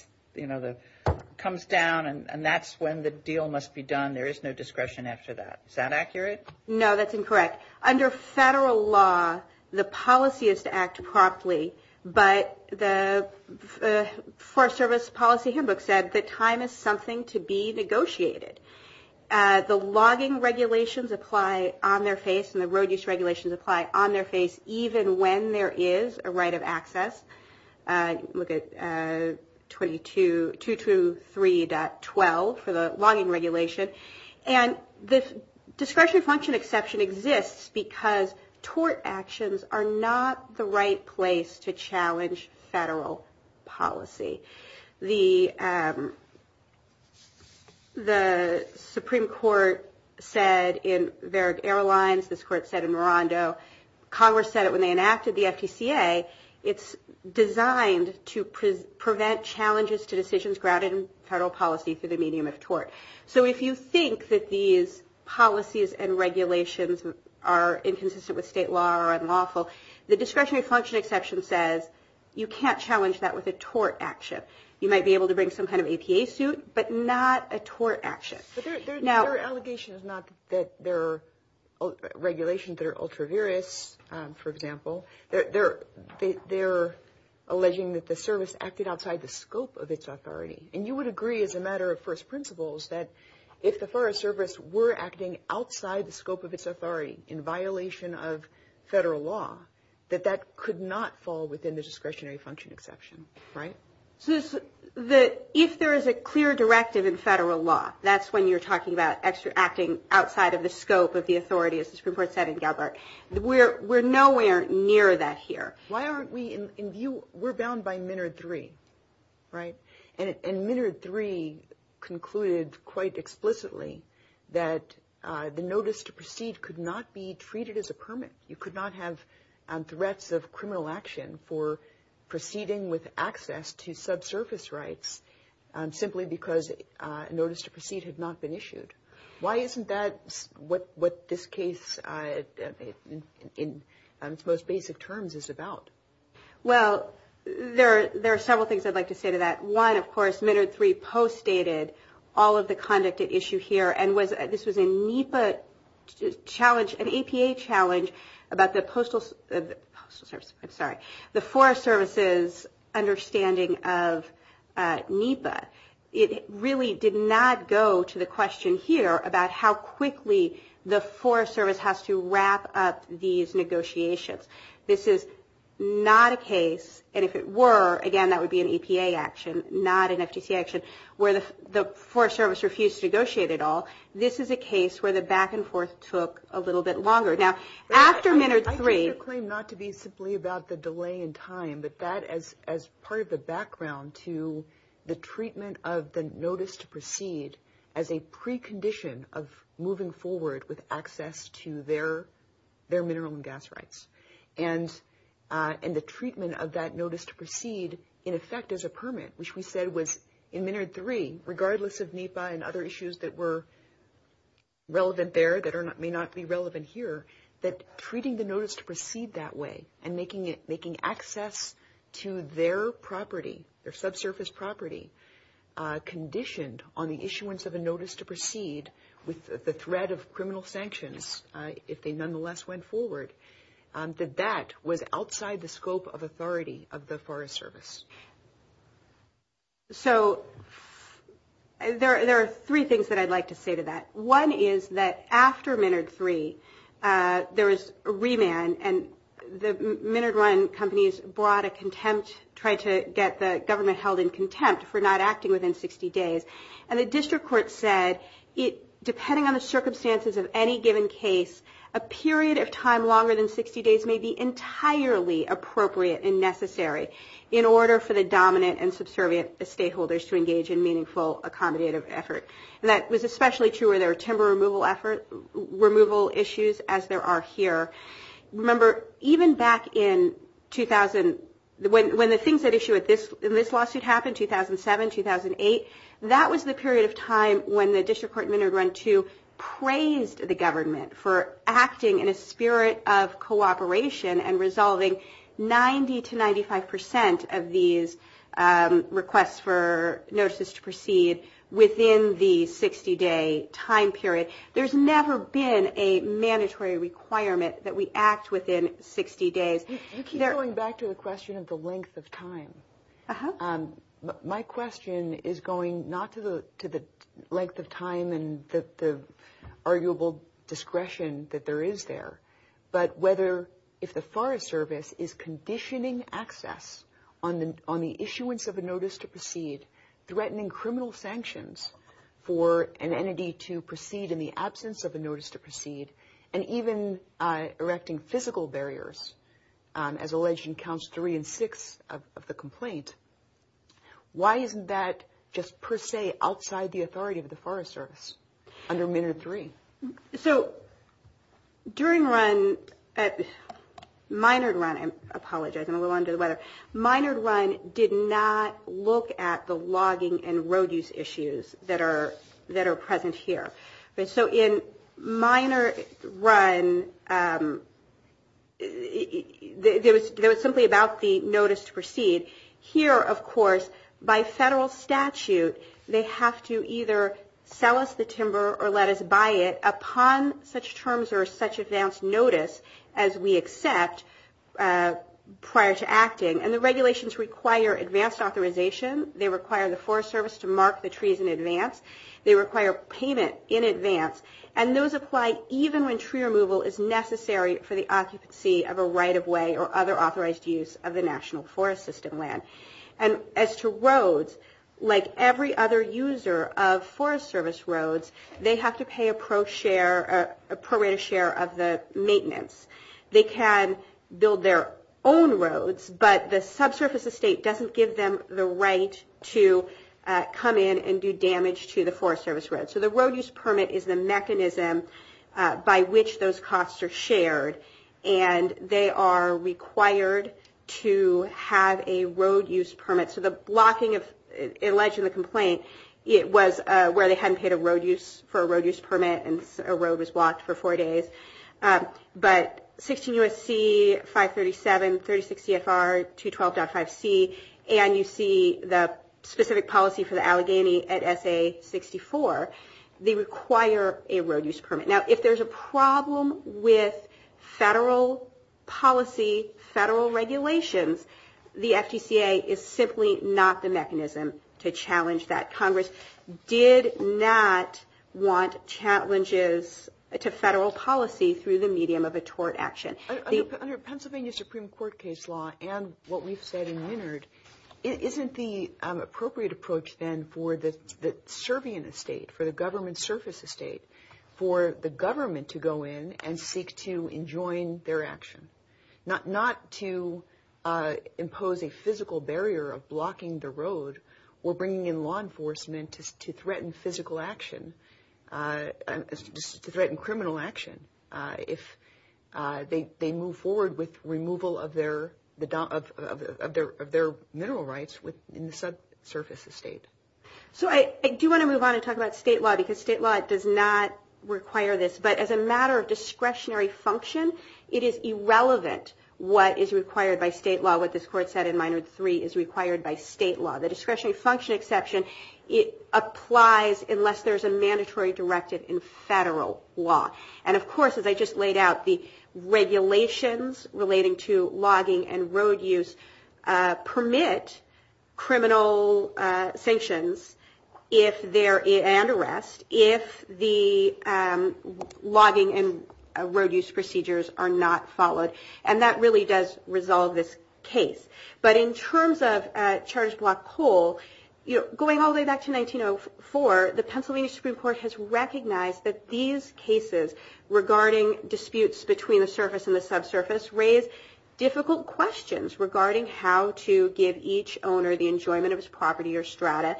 comes down, and that's when the deal must be done. There is no discretion after that. Is that accurate? No, that's incorrect. Under federal law, the policy is to act properly, but the Forest Service Policy Handbook said that time is something to be negotiated. The logging regulations apply on their face and the road use regulations apply on their face, even when there is a right of access. Look at 223.12 for the logging regulation. And this discretionary function exception exists because tort actions are not the right place to challenge federal policy. The Supreme Court said in Varick Airlines, this Court said in Marando, Congress said it when they enacted the FTCA, it's designed to prevent challenges to decisions grounded in federal policy through the medium of tort. So if you think that these policies and regulations are inconsistent with state law or unlawful, the discretionary function exception says you can't challenge that with a tort action. You might be able to bring some kind of APA suit, but not a tort action. Their allegation is not that their regulations are ultra-various, for example. They're alleging that the service acted outside the scope of its authority. And you would agree as a matter of first principles that if the Forest Service were acting outside the scope of its authority in violation of federal law, that that could not fall within the discretionary function exception, right? If there is a clear directive in federal law, that's when you're talking about acting outside of the scope of the authority, as the Supreme Court said in Galbraith. We're nowhere near that here. Why aren't we in view? We're bound by Minard 3, right? And Minard 3 concluded quite explicitly that the notice to proceed could not be treated as a permit. You could not have threats of criminal action for proceeding with access to subsurface rights simply because a notice to proceed had not been issued. Why isn't that what this case, in its most basic terms, is about? Well, there are several things I'd like to say to that. One, of course, Minard 3 postdated all of the conduct at issue here, and this was an APA challenge about the Forest Service's understanding of NEPA. It really did not go to the question here about how quickly the Forest Service has to wrap up these negotiations. This is not a case, and if it were, again, that would be an EPA action, not an FTC action, where the Forest Service refused to negotiate at all. This is a case where the back and forth took a little bit longer. Now, after Minard 3... I take the claim not to be simply about the delay in time, but that as part of the background to the treatment of the notice to proceed as a precondition of moving forward with access to their mineral and gas rights. And the treatment of that notice to proceed, in effect, is a permit, which we said was, in Minard 3, regardless of NEPA and other issues that were relevant there that may not be relevant here, that treating the notice to proceed that way and making access to their property, their subsurface property, conditioned on the issuance of a notice to proceed with the threat of criminal sanctions, if they nonetheless went forward, that that was outside the scope of authority of the Forest Service. So there are three things that I'd like to say to that. One is that after Minard 3, there was a remand, and the Minard Run companies brought a contempt, tried to get the government held in contempt for not acting within 60 days. And the district court said, depending on the circumstances of any given case, a period of time longer than 60 days may be entirely appropriate and necessary in order for the dominant and subservient stakeholders to engage in meaningful accommodative effort. And that was especially true for their timber removal issues, as there are here. Remember, even back in 2000, when the things at issue in this lawsuit happened, 2007, 2008, that was the period of time when the district court Minard Run 2 praised the government for acting in a spirit of cooperation and resolving 90% to 95% of these requests for notices to proceed within the 60-day time period. There's never been a mandatory requirement that we act within 60 days. You keep going back to the question of the length of time. My question is going not to the length of time and the arguable discretion that there is there, but whether if the Forest Service is conditioning access on the issuance of a notice to proceed, threatening criminal sanctions for an entity to proceed in the absence of a notice to proceed, and even erecting physical barriers, as alleged in Counts 3 and 6 of the complaint, why isn't that just per se outside the authority of the Forest Service under Minard 3? So during Minard Run, I apologize, I'm going to go on to the letter. Minard Run did not look at the logging and road use issues that are present here. So in Minard Run, it was simply about the notice to proceed. Here, of course, by federal statute, they have to either sell us the timber or let us buy it on such terms or such advance notice as we accept prior to acting, and the regulations require advanced authorization. They require the Forest Service to mark the trees in advance. They require payment in advance, and those apply even when tree removal is necessary for the occupancy of a right-of-way or other authorized use of the National Forest System land. As to roads, like every other user of Forest Service roads, they have to pay a prorated share of the maintenance. They can build their own roads, but the subsurface estate doesn't give them the right to come in and do damage to the Forest Service roads. So the road use permit is a mechanism by which those costs are shared, and they are required to have a road use permit. So the blocking, in light of the complaint, it was where they hadn't paid for a road use permit and a road was blocked for four days. But 16 U.S.C., 537, 36 CFR, 212.5 C, and you see the specific policy for the Allegheny at S.A. 64, they require a road use permit. Now, if there's a problem with federal policy, federal regulations, the FCCA is simply not the mechanism to challenge that. Congress did not want challenges to federal policy through the medium of a tort action. Under Pennsylvania Supreme Court case law and what we've said in Winard, isn't the appropriate approach then for the serving estate, for the government surface estate, for the government to go in and seek to enjoin their actions, not to impose a physical barrier of blocking the road or bringing in law enforcement to threaten physical action, to threaten criminal action, if they move forward with removal of their mineral rights in the subsurface estate. So I do want to move on and talk about state law, because state law does not require this. But as a matter of discretionary function, it is irrelevant what is required by state law, what this court said in Minard 3 is required by state law. The discretionary function exception, it applies unless there's a mandatory directive in federal law. And of course, as I just laid out, the regulations relating to logging and road use permit criminal sanctions and arrests if the logging and road use procedures are not followed. And that really does resolve this case. But in terms of charged block whole, going all the way back to 1904, the Pennsylvania Supreme Court has recognized that these cases regarding disputes between the surface and the subsurface raise difficult questions regarding how to give each owner the enjoyment of his property or strata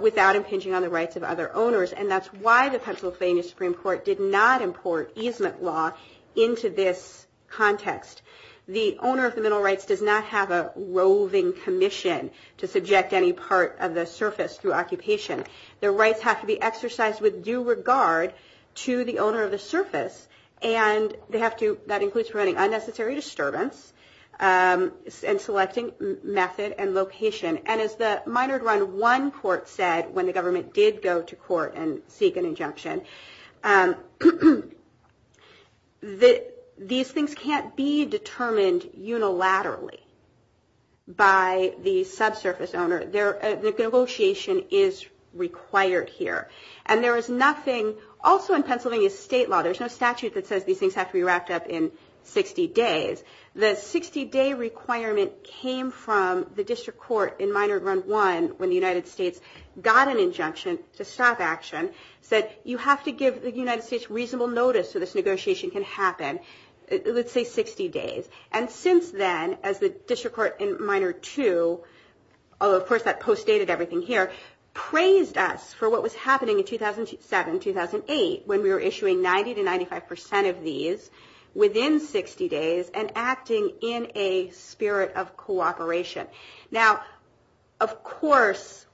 without impinging on the rights of other owners. And that's why the Pennsylvania Supreme Court did not import easement law into this context. The owner of the mineral rights does not have a roving commission to subject any part of the surface through occupation. Their rights have to be exercised with due regard to the owner of the surface, and that includes preventing unnecessary disturbance and selecting method and location. And as the Minard Run I court said when the government did go to court and seek an injunction, these things can't be determined unilaterally by the subsurface owner. The negotiation is required here. And there is nothing also in Pennsylvania state law, there's no statute that says these things have to be wrapped up in 60 days. The 60-day requirement came from the district court in Minard Run I when the United States got an injunction to stop action that you have to give the United States reasonable notice so this negotiation can happen, let's say 60 days. And since then, as the district court in Minard II, although of course that postdated everything here, praised us for what was happening in 2007, 2008 when we were issuing 90 to 95% of these within 60 days and acting in a spirit of cooperation. Now, of course,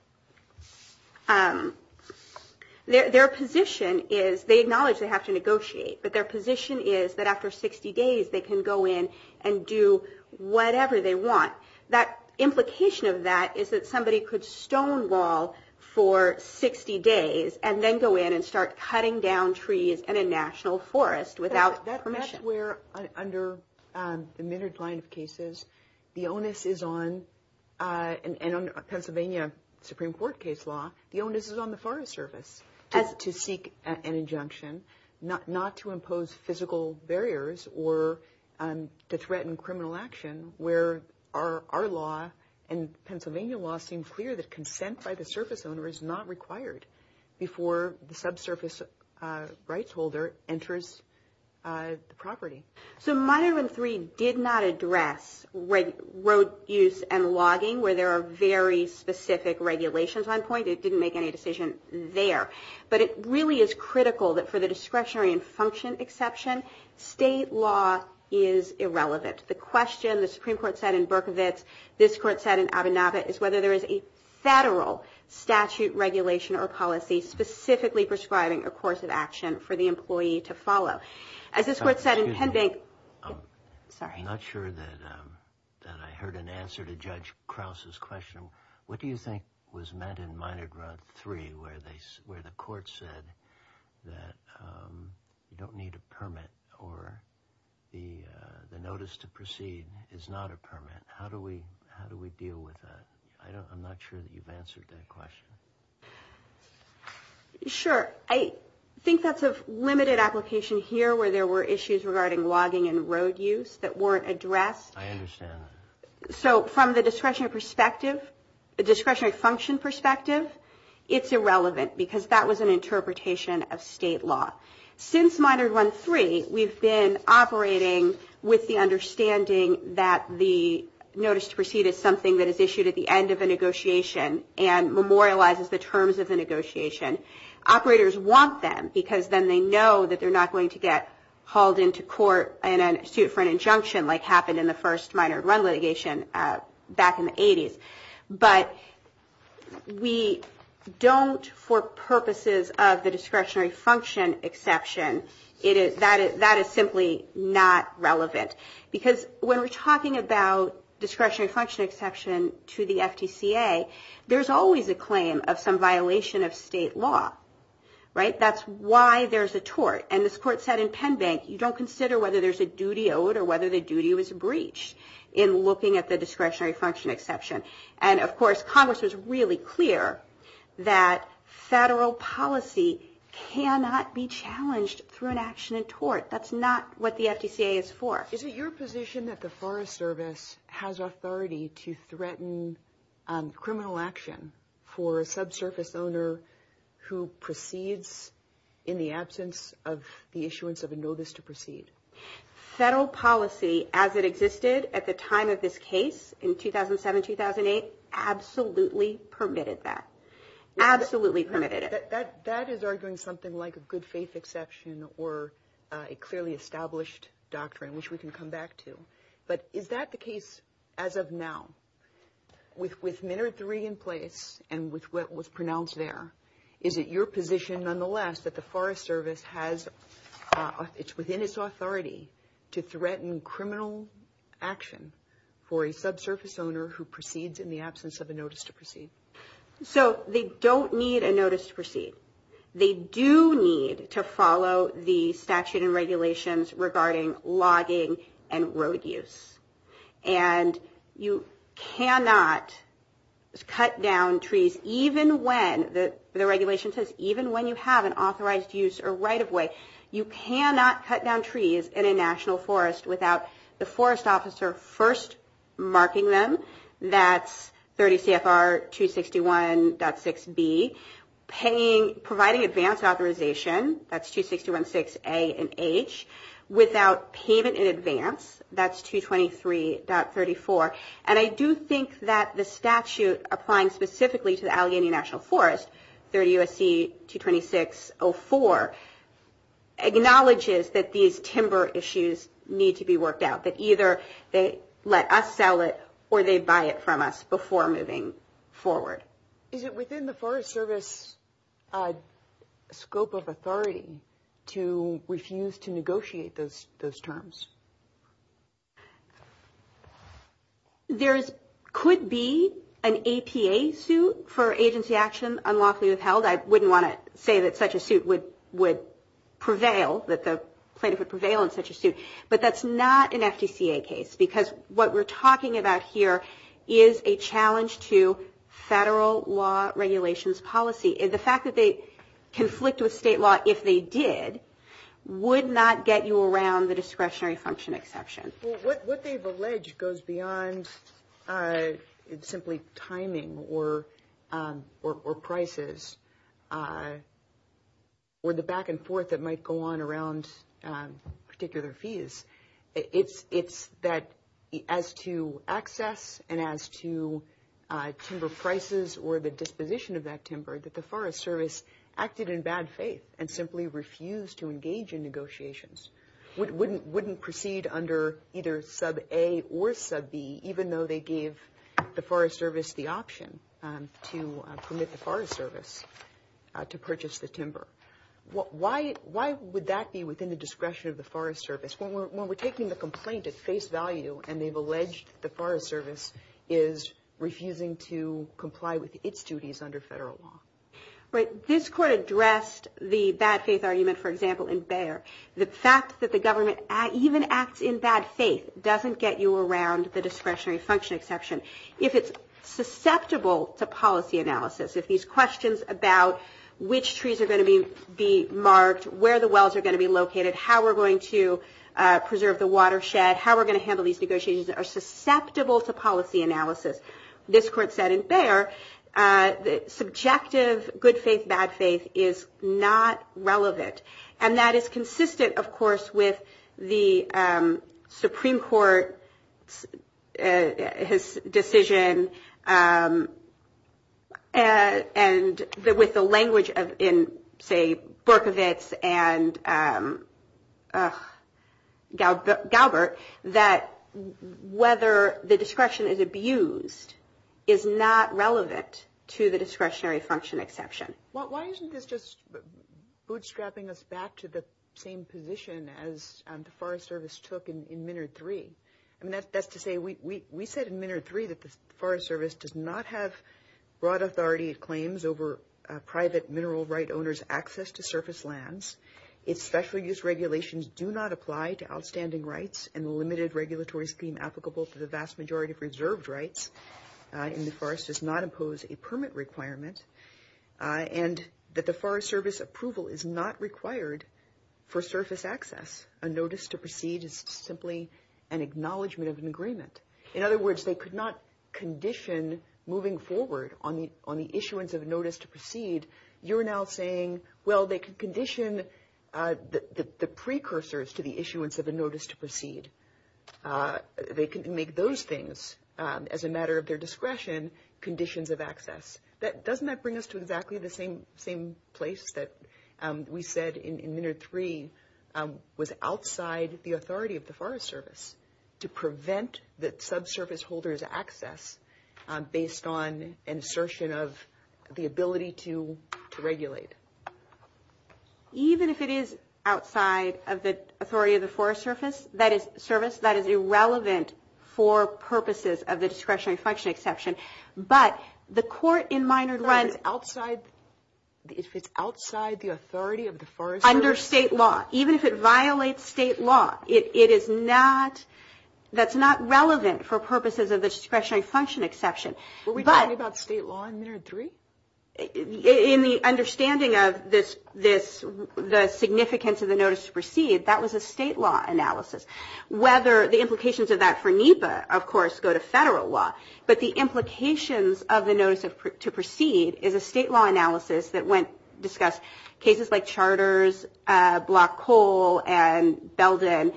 their position is, they acknowledge they have to negotiate, but their position is that after 60 days they can go in and do whatever they want. The implication of that is that somebody could stonewall for 60 days and then go in and start cutting down trees in a national forest without permission. That's where under the Minard line of cases, the onus is on, and under Pennsylvania Supreme Court case law, the onus is on the Forest Service to seek an injunction, not to impose physical barriers or to threaten criminal action where our law and Pennsylvania law seems clear that consent by the service owner is not required before the subsurface rights holder enters the property. So Minard III did not address road use and logging where there are very specific regulations on point. They didn't make any decisions there. But it really is critical that for the discretionary and function exception, state law is irrelevant. The question the Supreme Court said in Berkovits, this court said in Abinavit, is whether there is a federal statute, regulation, or policy specifically prescribing a course of action for the employee to follow. As this court said in Penn Bank... I'm not sure that I heard an answer to Judge Krause's question. What do you think was meant in Minard III where the court said that you don't need a permit or the notice to proceed is not a permit? How do we deal with that? I'm not sure that you've answered that question. Sure. I think that's a limited application here where there were issues regarding logging and road use that weren't addressed. I understand that. So from the discretionary function perspective, it's irrelevant because that was an interpretation of state law. Since Minard III, we've been operating with the understanding that the notice to proceed is something that is issued at the end of a negotiation and memorializes the terms of the negotiation. Operators want them because then they know that they're not going to get hauled into court in a suit for an injunction like happened in the first Minard run litigation back in the 80s. But we don't, for purposes of the discretionary function exception, that is simply not relevant. Because when we're talking about discretionary function exception to the FTCA, there's always a claim of some violation of state law. That's why there's a tort. And this court said in Penbank, you don't consider whether there's a duty owed or whether the duty was breached in looking at the discretionary function exception. And, of course, Congress was really clear that federal policy cannot be challenged through an action in tort. That's not what the FTCA is for. Is it your position that the Forest Service has authority to threaten criminal action for a subsurface owner who proceeds in the absence of the issuance of a notice to proceed? Federal policy as it existed at the time of this case in 2007-2008 absolutely permitted that. Absolutely permitted it. That is arguing something like a good faith exception or a clearly established doctrine, which we can come back to. But is that the case as of now? With Miner 3 in place and with what was pronounced there, is it your position nonetheless that the Forest Service has within its authority to threaten criminal action for a subsurface owner who proceeds in the absence of a notice to proceed? So they don't need a notice to proceed. They do need to follow the statute and regulations regarding logging and road use. And you cannot cut down trees even when the regulation says even when you have an authorized use or right-of-way. You cannot cut down trees in a national forest without the forest officer first marking them. That's 30 CFR 261.6B. Providing advanced authorization, that's 261.6A and H, without payment in advance, that's 223.34. And I do think that the statute applying specifically to the Allegheny National Forest, 30 U.S.C. 226.04, acknowledges that these timber issues need to be worked out. That either they let us sell it or they buy it from us before moving forward. Is it within the Forest Service scope of authority to refuse to negotiate those terms? There could be an ATA suit for agency action unlawfully withheld. I wouldn't want to say that such a suit would prevail, that the plaintiff would prevail in such a suit. But that's not an FCCA case because what we're talking about here is a challenge to federal law regulations policy. The fact that they conflict with state law, if they did, would not get you around the discretionary function exception. What they've alleged goes beyond simply timing or prices or the back and forth that might go on around particular fees. It's that as to access and as to timber prices or the disposition of that timber, that the Forest Service acted in bad faith and simply refused to engage in negotiations. Wouldn't proceed under either sub A or sub B even though they gave the Forest Service the option to permit the Forest Service to purchase the timber. Why would that be within the discretion of the Forest Service when we're taking the complaint at face value and they've alleged the Forest Service is refusing to comply with its duties under federal law? This court addressed the bad faith argument, for example, in Bayer. The fact that the government even acts in bad faith doesn't get you around the discretionary function exception. If it's susceptible to policy analysis, if these questions about which trees are going to be marked, where the wells are going to be located, how we're going to preserve the watershed, how we're going to handle these negotiations are susceptible to policy analysis. As this court said in Bayer, subjective good faith, bad faith is not relevant. And that is consistent, of course, with the Supreme Court's decision and with the language in, say, Berkovitz and Gaubert, that whether the discretion is abused is not relevant to the discretionary function exception. Well, why isn't this just bootstrapping us back to the same position as the Forest Service took in Minard 3? That's to say, we said in Minard 3 that the Forest Service does not have broad authority claims over private mineral right owners' access to surface lands. Its special use regulations do not apply to outstanding rights and the limited regulatory scheme applicable to the vast majority of reserved rights in the forest does not impose a permit requirement. And that the Forest Service approval is not required for surface access. A notice to proceed is simply an acknowledgment of an agreement. In other words, they could not condition moving forward on the issuance of a notice to proceed. You're now saying, well, they can condition the precursors to the issuance of a notice to proceed. They can make those things, as a matter of their discretion, conditions of access. Doesn't that bring us to exactly the same place that we said in Minard 3 was outside the authority of the Forest Service to prevent that subsurface holders' access based on insertion of the ability to regulate? Even if it is outside of the authority of the Forest Service, that is a service that is irrelevant for purposes of the discretionary function exception. If it's outside the authority of the Forest Service? Under state law. Even if it violates state law, that's not relevant for purposes of the discretionary function exception. Were we talking about state law in Minard 3? In the understanding of the significance of the notice to proceed, that was a state law analysis. The implications of that for NEPA, of course, go to federal law. But the implications of the notice to proceed is a state law analysis that discussed cases like charters, block coal, and Belden.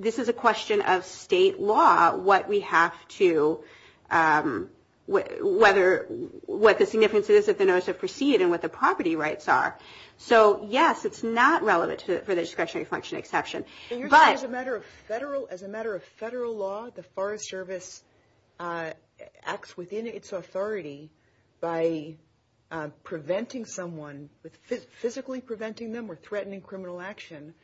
This is a question of state law, what the significance is of the notice to proceed and what the property rights are. So, yes, it's not relevant for the discretionary function exception. As a matter of federal law, the Forest Service acts within its authority by preventing someone, physically preventing them or threatening criminal action,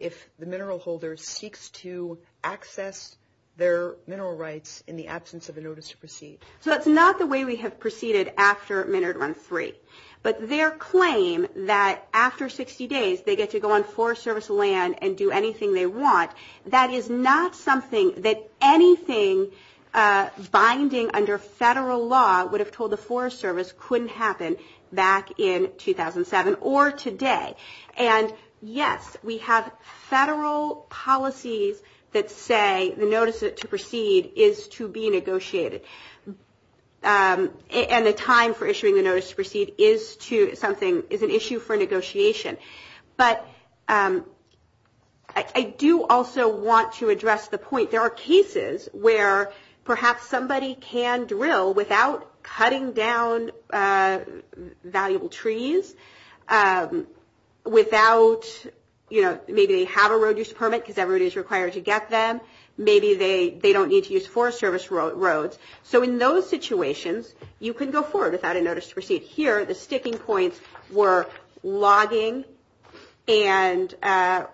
if the mineral holder seeks to access their mineral rights in the absence of a notice to proceed. That's not the way we have proceeded after Minard 3. But their claim that after 60 days they get to go on Forest Service land and do anything they want, that is not something that anything binding under federal law would have told the Forest Service couldn't happen back in 2007 or today. And, yes, we have federal policies that say the notice to proceed is to be negotiated. And the time for issuing the notice to proceed is an issue for negotiation. But I do also want to address the point. There are cases where perhaps somebody can drill without cutting down valuable trees, without, you know, maybe they have a road use permit because everybody is required to get them. Maybe they don't need to use Forest Service roads. So in those situations, you can go forward without a notice to proceed. Here, the sticking points were logging and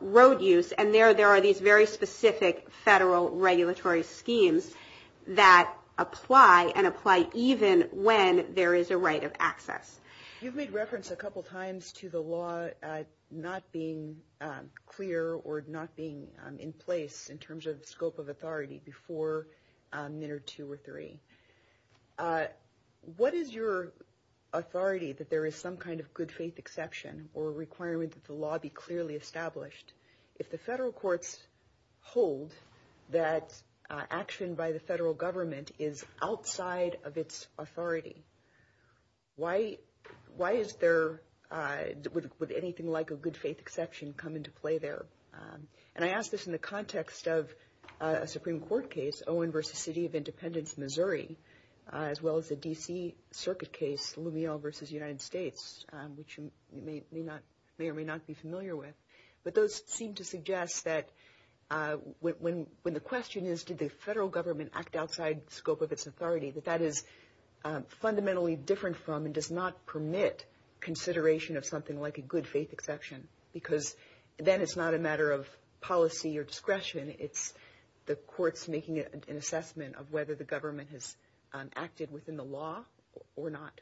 road use. And there are these very specific federal regulatory schemes that apply and apply even when there is a right of access. You've made reference a couple times to the law not being clear or not being in place in terms of scope of authority before Minard 2 or 3. What is your authority that there is some kind of good faith exception or requirement that the law be clearly established? If the federal courts hold that action by the federal government is outside of its authority, why is there anything like a good faith exception come into play there? And I ask this in the context of a Supreme Court case, Owen v. City of Independence, Missouri, as well as the D.C. Circuit case, Lumiel v. United States, which you may or may not be familiar with. But those seem to suggest that when the question is did the federal government act outside scope of its authority, that that is fundamentally different from and does not permit consideration of something like a good faith exception because then it's not a matter of policy or discretion. It's the courts making an assessment of whether the government has acted within the law or not.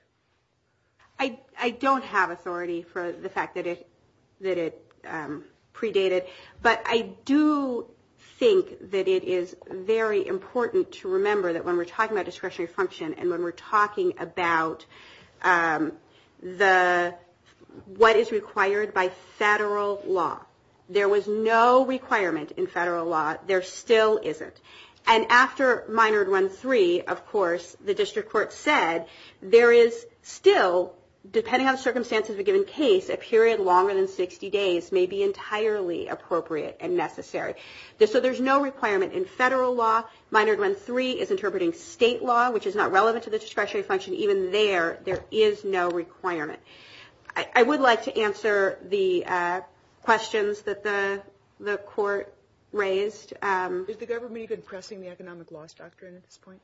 I don't have authority for the fact that it predated. But I do think that it is very important to remember that when we're talking about discretionary function and when we're talking about what is required by federal law, there was no requirement in federal law. There still isn't. And after Minard 1.3, of course, the district court said there is still, depending on the circumstances of a given case, a period longer than 60 days may be entirely appropriate and necessary. So there's no requirement in federal law. Minard 1.3 is interpreting state law, which is not relevant to the discretionary function. Even there, there is no requirement. I would like to answer the questions that the court raised. Is the government even pressing the economic loss doctrine at this point?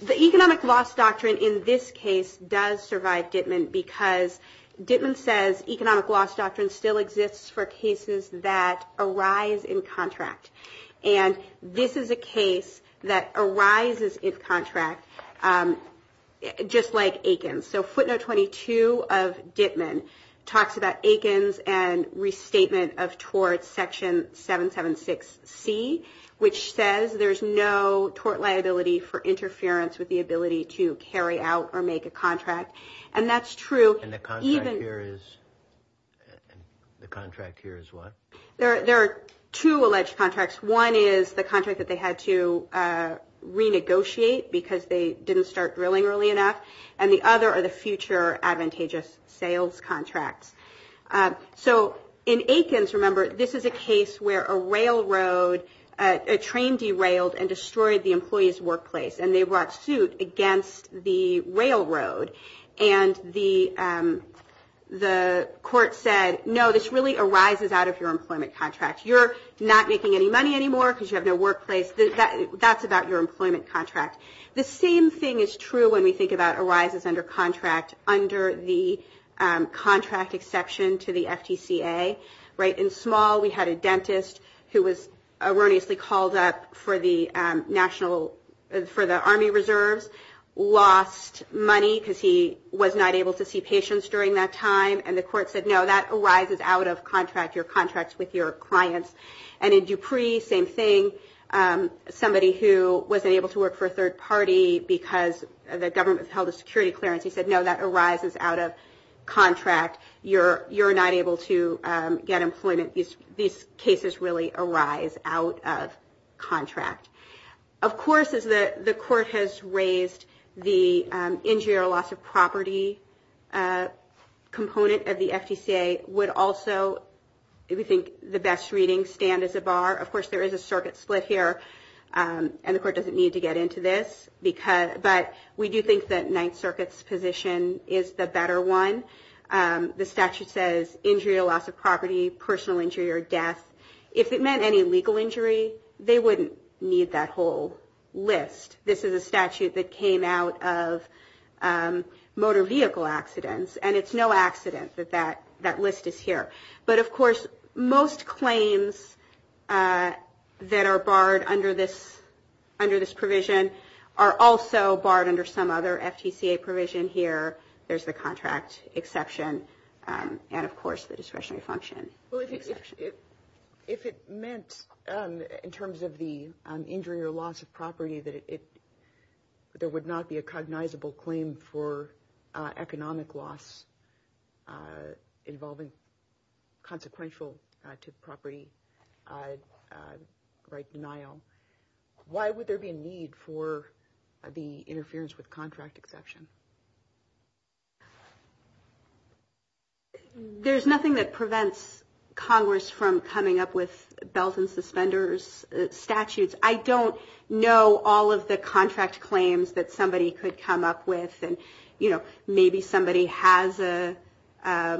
The economic loss doctrine in this case does survive Dittman because Dittman says economic loss doctrine still exists for cases that arise in contract. And this is a case that arises in contract just like Aikens. So footnote 22 of Dittman talks about Aikens and restatement of tort section 776C, which says there's no tort liability for interference with the ability to carry out or make a contract. And that's true. And the contract here is what? There are two alleged contracts. One is the contract that they had to renegotiate because they didn't start drilling early enough, and the other are the future advantageous sales contracts. So in Aikens, remember, this is a case where a railroad, a train derailed and destroyed the employee's workplace, and they brought suit against the railroad. And the court said, no, this really arises out of your employment contract. You're not making any money anymore because you have your workplace. That's about your employment contract. The same thing is true when we think about arises under contract under the contract exception to the FTCA. In Small, we had a dentist who was erroneously called up for the Army Reserve, lost money because he was not able to see patients during that time, and the court said, no, that arises out of contract, your contract with your clients. And in Dupree, same thing, somebody who wasn't able to work for a third party because the government has held a security clearance. He said, no, that arises out of contract. You're not able to get employment. These cases really arise out of contract. Of course, as the court has raised the injury or loss of property component of the FTCA would also, we think the best reading stand as a bar. Of course, there is a circuit split here, and the court doesn't need to get into this, but we do think that Ninth Circuit's position is the better one. The statute says injury or loss of property, personal injury or death. If it meant any legal injury, they wouldn't need that whole list. This is a statute that came out of motor vehicle accidents, and it's no accident that that list is here. But, of course, most claims that are barred under this provision are also barred under some other FTCA provision here. There's the contract exception and, of course, the discretionary function. If it meant in terms of the injury or loss of property, there would not be a cognizable claim for economic loss involving consequential to the property right denial. Why would there be a need for the interference with contract exception? There's nothing that prevents Congress from coming up with belt and suspenders statutes. I don't know all of the contract claims that somebody could come up with. Maybe somebody has a – I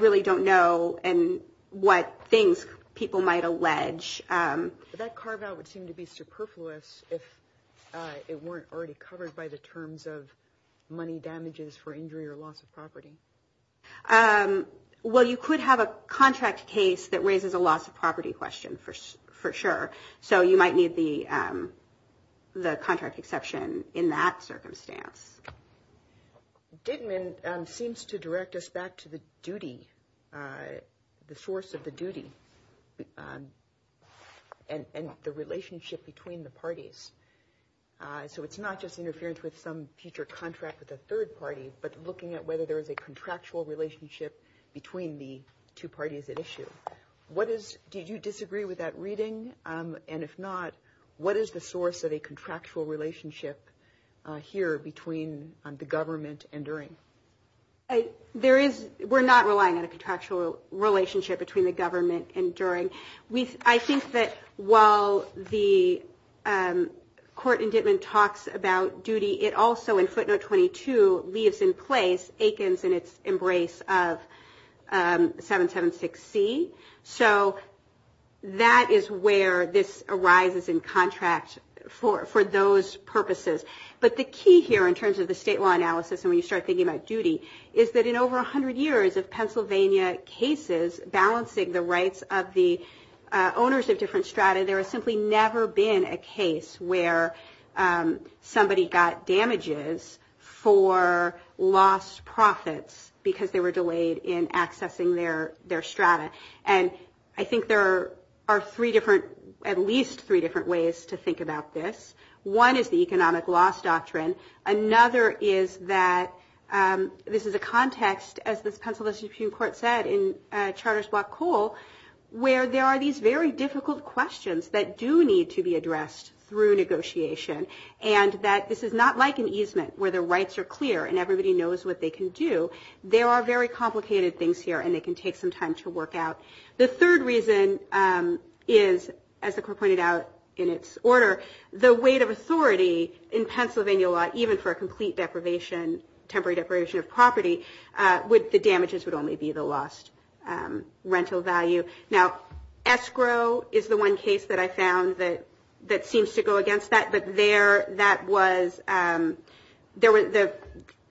really don't know what things people might allege. That carve-out would seem to be superfluous if it weren't already covered by the terms of money damages for injury or loss of property. Well, you could have a contract case that raises a loss of property question, for sure. So you might need the contract exception in that circumstance. Gitman seems to direct us back to the duty, the source of the duty, and the relationship between the parties. So it's not just interference with some future contract with a third party, but looking at whether there is a contractual relationship between the two parties at issue. Do you disagree with that reading? And if not, what is the source of a contractual relationship here between the government and DURING? We're not relying on a contractual relationship between the government and DURING. I think that while the court in Gitman talks about duty, it also in Footnote 22 leaves in place Aikens and its embrace of 776C. So that is where this arises in contracts for those purposes. But the key here in terms of the state law analysis, and when you start thinking about duty, is that in over 100 years of Pennsylvania cases balancing the rights of the owners of different strata, there has simply never been a case where somebody got damages for lost profits because they were delayed in accessing their strata. And I think there are at least three different ways to think about this. One is the economic loss doctrine. Another is that this is a context, as the Pennsylvania Supreme Court said in Charter's Black Hole, where there are these very difficult questions that do need to be addressed through negotiation and that this is not like an easement where the rights are clear and everybody knows what they can do. There are very complicated things here, and it can take some time to work out. The third reason is, as the court pointed out in its order, the weight of authority in Pennsylvania law, even for a complete deprivation, temporary deprivation of property, the damages would only be the lost rental value. Now, escrow is the one case that I found that seems to go against that, but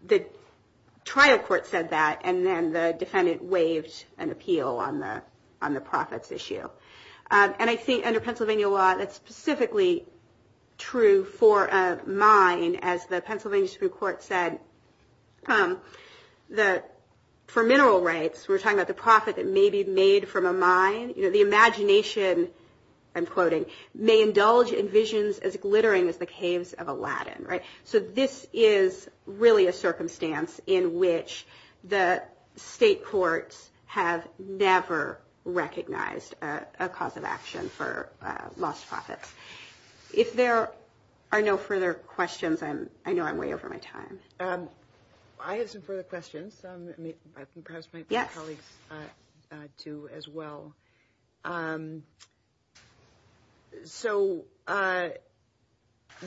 the trial court said that and then the defendant waived an appeal on the profits issue. And I think under Pennsylvania law, that's specifically true for a mine, as the Pennsylvania Supreme Court said, for mineral rights, we're talking about the profit that may be made from a mine, the imagination, I'm quoting, may indulge in visions as glittering as the caves of Aladdin. So this is really a circumstance in which the state courts have never recognized a cause of action for lost profits. If there are no further questions, I know I'm way over my time. I have some further questions, and perhaps my colleagues do as well. So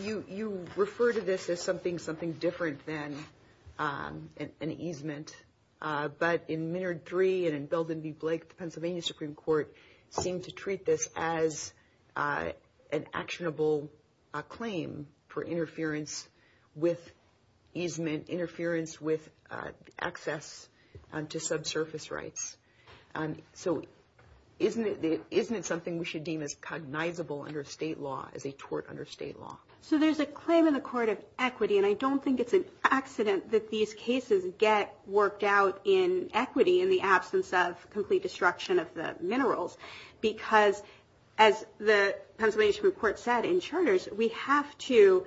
you refer to this as something different than an easement, but in Minard 3 and in Belden v. Blake, the Pennsylvania Supreme Court seemed to treat this as an actionable claim for interference with easement, interference with access to subsurface rights. So isn't it something we should deem as cognizable under state law, as a tort under state law? So there's a claim in the court of equity, and I don't think it's an accident that these cases get worked out in equity in the absence of complete destruction of the minerals, because as the Pennsylvania Supreme Court said, insurers, we have to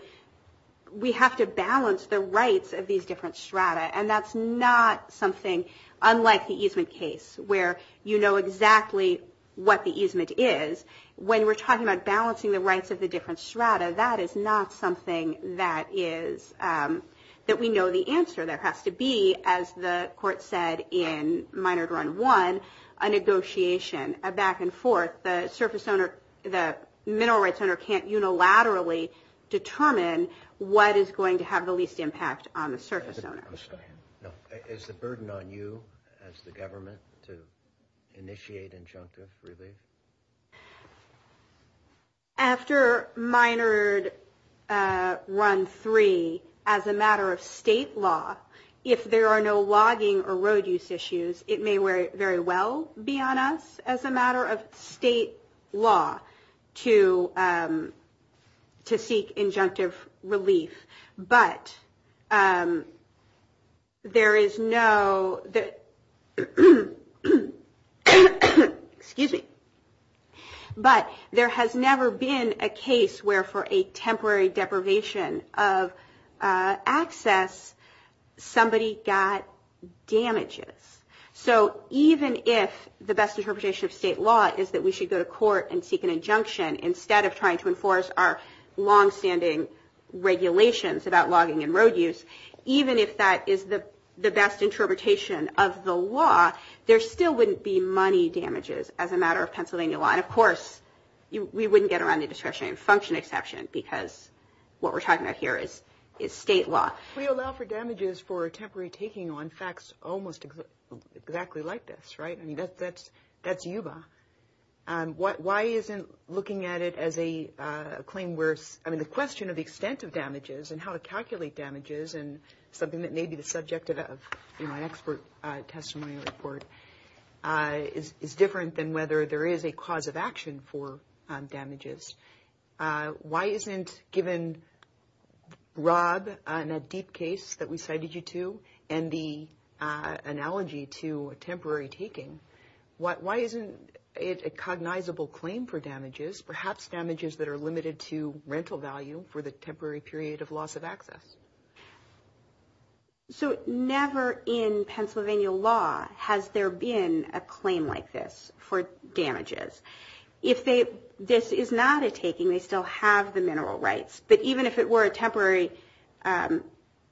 balance the rights of these different strata, and that's not something unlike the easement case, where you know exactly what the easement is. When we're talking about balancing the rights of the different strata, that is not something that we know the answer. There has to be, as the court said in Minard 1, a negotiation, a back and forth. The mineral rights owner can't unilaterally determine what is going to have the least impact on the surface owner. Is the burden on you as the government to initiate injunctive relief? After Minard 1-3, as a matter of state law, if there are no logging or road use issues, it may very well be on us as a matter of state law to seek injunctive relief, but there has never been a case where for a temporary deprivation of access, somebody got damages. So even if the best interpretation of state law is that we should go to court and seek an injunction instead of trying to enforce our longstanding regulations about logging and road use, even if that is the best interpretation of the law, there still wouldn't be money damages as a matter of Pennsylvania law. And of course, we wouldn't get around the destruction and function exception, because what we're talking about here is state law. We allow for damages for temporary taking on facts almost exactly like this, right? I mean, that's UVA. Why isn't looking at it as a claim where, I mean, the question of the extent of damages and how to calculate damages and something that may be the subject of an expert testimony report is different than whether there is a cause of action for damages. Why isn't, given Rob and that deep case that we cited you to and the analogy to temporary taking, why isn't it a cognizable claim for damages, perhaps damages that are limited to rental value for the temporary period of loss of access? So never in Pennsylvania law has there been a claim like this for damages. If this is not a taking, they still have the mineral rights. But even if it were a temporary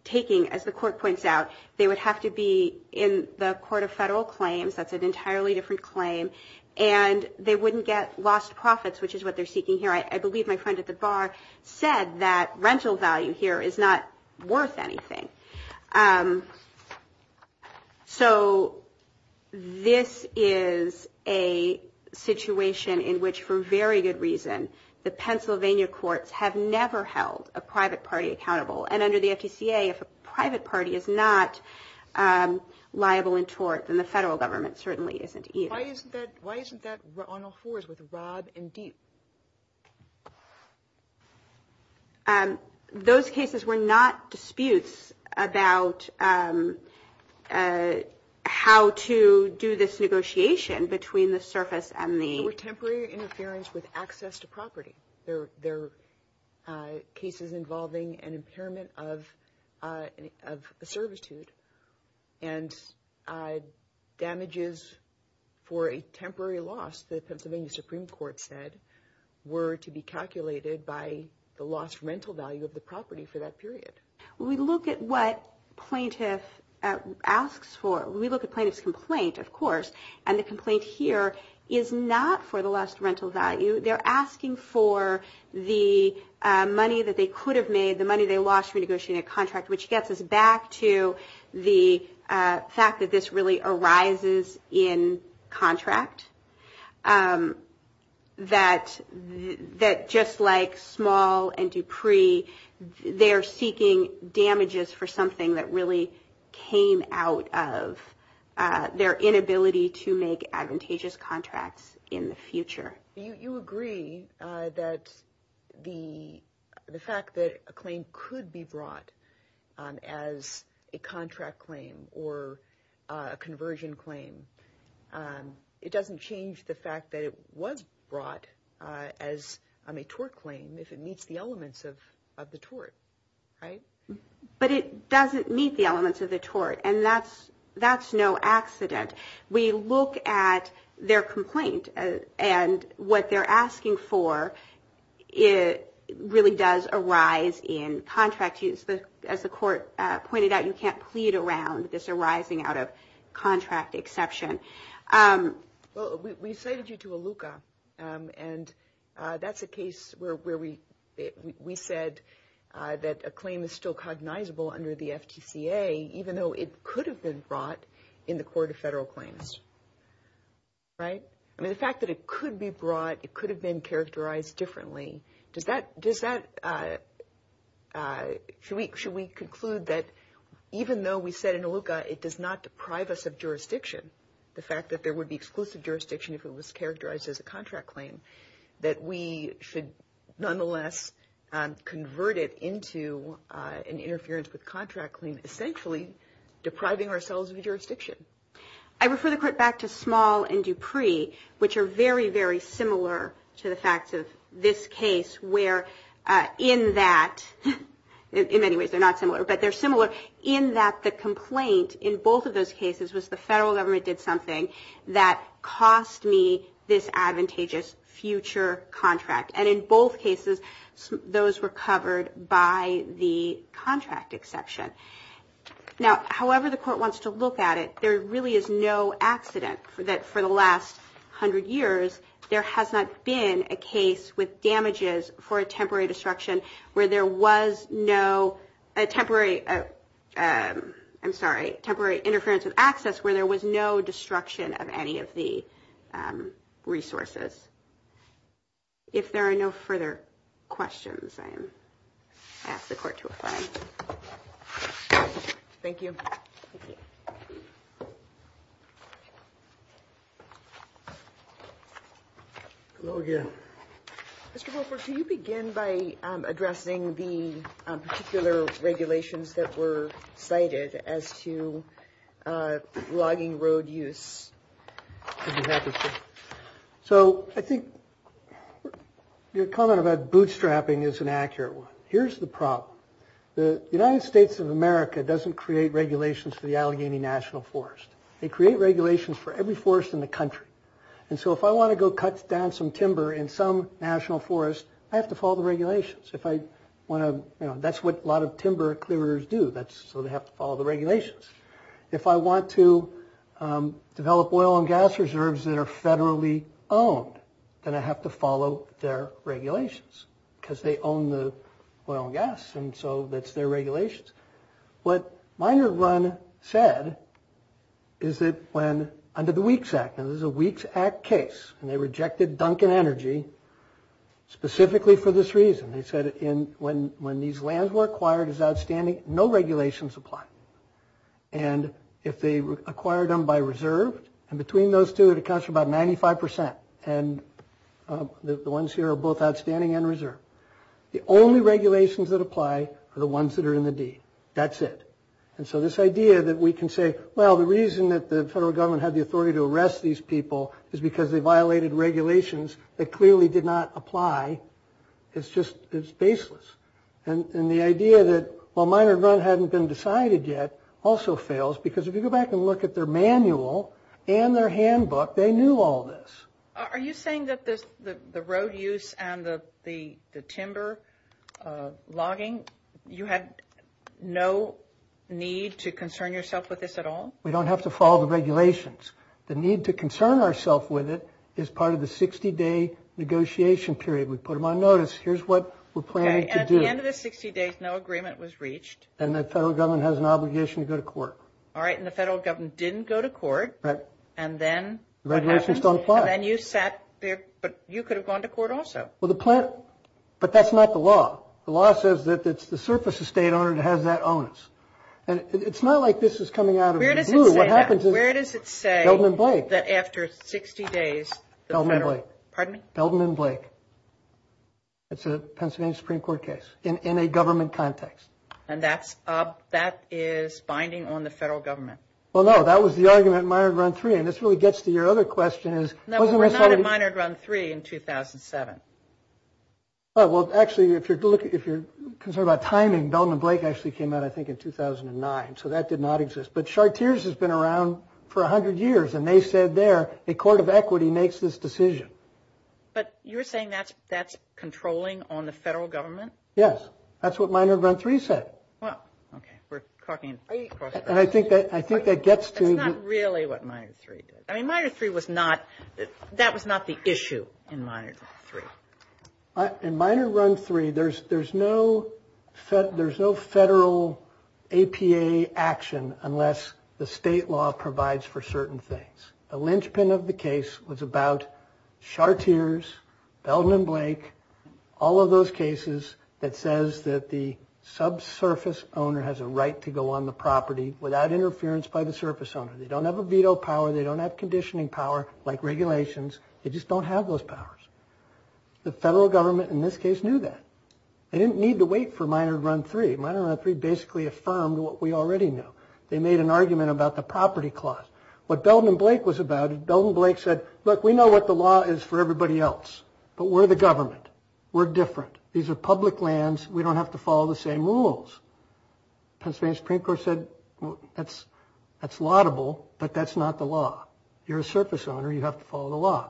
taking, as the court points out, they would have to be in the court of federal claims. That's an entirely different claim. And they wouldn't get lost profits, which is what they're seeking here. I believe my friend at the bar said that rental value here is not worth anything. So this is a situation in which, for very good reason, the Pennsylvania courts have never held a private party accountable. And under the FDCA, if a private party is not liable in tort, then the federal government certainly isn't either. Why isn't that on all fours with Rob and Deep? Those cases were not disputes about how to do this negotiation between the surface and the... They were temporary interference with access to property. They're cases involving an impairment of servitude and damages for a temporary loss to the Pennsylvania Supreme Court said were to be calculated by the lost rental value of the property for that period. We look at what plaintiff asks for. We look at plaintiff's complaint, of course, and the complaint here is not for the lost rental value. They're asking for the money that they could have made, the money they lost from negotiating a contract, which gets us back to the fact that this really arises in contract, that just like Small and Dupree, they're seeking damages for something that really came out of their inability to make advantageous contracts in the future. You agree that the fact that a claim could be brought as a contract claim or a conversion claim, it doesn't change the fact that it was brought as a tort claim if it meets the elements of the tort, right? But it doesn't meet the elements of the tort, and that's no accident. We look at their complaint, and what they're asking for really does arise in contract. As the court pointed out, you can't plead around this arising out of contract exception. Well, we cited you to ALUCA, and that's a case where we said that a claim is still cognizable under the FGCA, even though it could have been brought in the court of federal claims, right? I mean, the fact that it could be brought, it could have been characterized differently, should we conclude that even though we said in ALUCA it does not deprive us of jurisdiction, the fact that there would be exclusive jurisdiction if it was characterized as a contract claim, that we should nonetheless convert it into an interference with contract claim essentially depriving ourselves of jurisdiction. I refer the court back to Small and Dupree, which are very, very similar to the fact of this case, where in that, in many ways they're not similar, but they're similar in that the complaint in both of those cases was the federal government did something that cost me this advantageous future contract. And in both cases, those were covered by the contract exception. Now, however the court wants to look at it, there really is no accident that for the last hundred years there has not been a case with damages for a temporary destruction where there was no temporary, I'm sorry, temporary interference with access where there was no destruction of any of the resources. If there are no further questions, I ask the court to apply. Thank you. Hello again. Mr. Wilford, can you begin by addressing the particular regulations that were cited as to logging road use? So I think your comment about bootstrapping is an accurate one. Here's the problem. The United States of America doesn't create regulations for the Allegheny National Forest. They create regulations for every forest in the country. And so if I want to go cut down some timber in some national forest, I have to follow the regulations. That's what a lot of timber clearers do. So they have to follow the regulations. If I want to develop oil and gas reserves that are federally owned, then I have to follow their regulations because they own the oil and gas and so that's their regulations. What Minor Grun said is that under the WEEKS Act, and this is a WEEKS Act case, and they rejected Duncan Energy specifically for this reason. They said when these lands were acquired as outstanding, no regulations apply. And if they acquired them by reserve, and between those two it accounts for about 95 percent, and the ones here are both outstanding and reserved. The only regulations that apply are the ones that are in the deed. That's it. And so this idea that we can say, well, the reason that the federal government had the authority to arrest these people is because they violated regulations that clearly did not apply, is just baseless. And the idea that, well, Minor Grun hadn't been decided yet also fails because if you go back and look at their manual and their handbook, they knew all this. Are you saying that the road use and the timber logging, you had no need to concern yourself with this at all? We don't have to follow the regulations. The need to concern ourselves with it is part of the 60-day negotiation period. We put them on notice. Here's what we're planning to do. At the end of the 60 days, no agreement was reached. And the federal government has an obligation to go to court. All right, and the federal government didn't go to court, and then what happened? Regulations don't apply. And you sat there, but you could have gone to court also. But that's not the law. The law says that it's the surface estate owner that has that onus. And it's not like this is coming out of the blue. Where does it say that after 60 days, the federal – pardon me? Belden and Blake. It's a Pennsylvania Supreme Court case in a government context. And that is binding on the federal government. Well, no, that was the argument in Minard Run 3. And this really gets to your other question. No, but we're not in Minard Run 3 in 2007. Well, actually, if you're concerned about timing, Belden and Blake actually came out, I think, in 2009. So that did not exist. But Chartier's has been around for 100 years, and they said there, a court of equity makes this decision. But you're saying that's controlling on the federal government? Yes, that's what Minard Run 3 said. Well, okay, we're talking – And I think that gets to – That's not really what Minard 3 did. I mean, Minard 3 was not – that was not the issue in Minard Run 3. In Minard Run 3, there's no federal APA action unless the state law provides for certain things. The linchpin of the case was about Chartier's, Belden and Blake, all of those cases that says that the subsurface owner has a right to go on the property without interference by the surface owner. They don't have a veto power. They don't have conditioning power like regulations. They just don't have those powers. The federal government, in this case, knew that. They didn't need to wait for Minard Run 3. Minard Run 3 basically affirmed what we already knew. They made an argument about the property clause. What Belden and Blake was about, Belden and Blake said, look, we know what the law is for everybody else, but we're the government. We're different. These are public lands. We don't have to follow the same rules. Constituent Supreme Court said that's laudable, but that's not the law. You're a surface owner. You have to follow the law.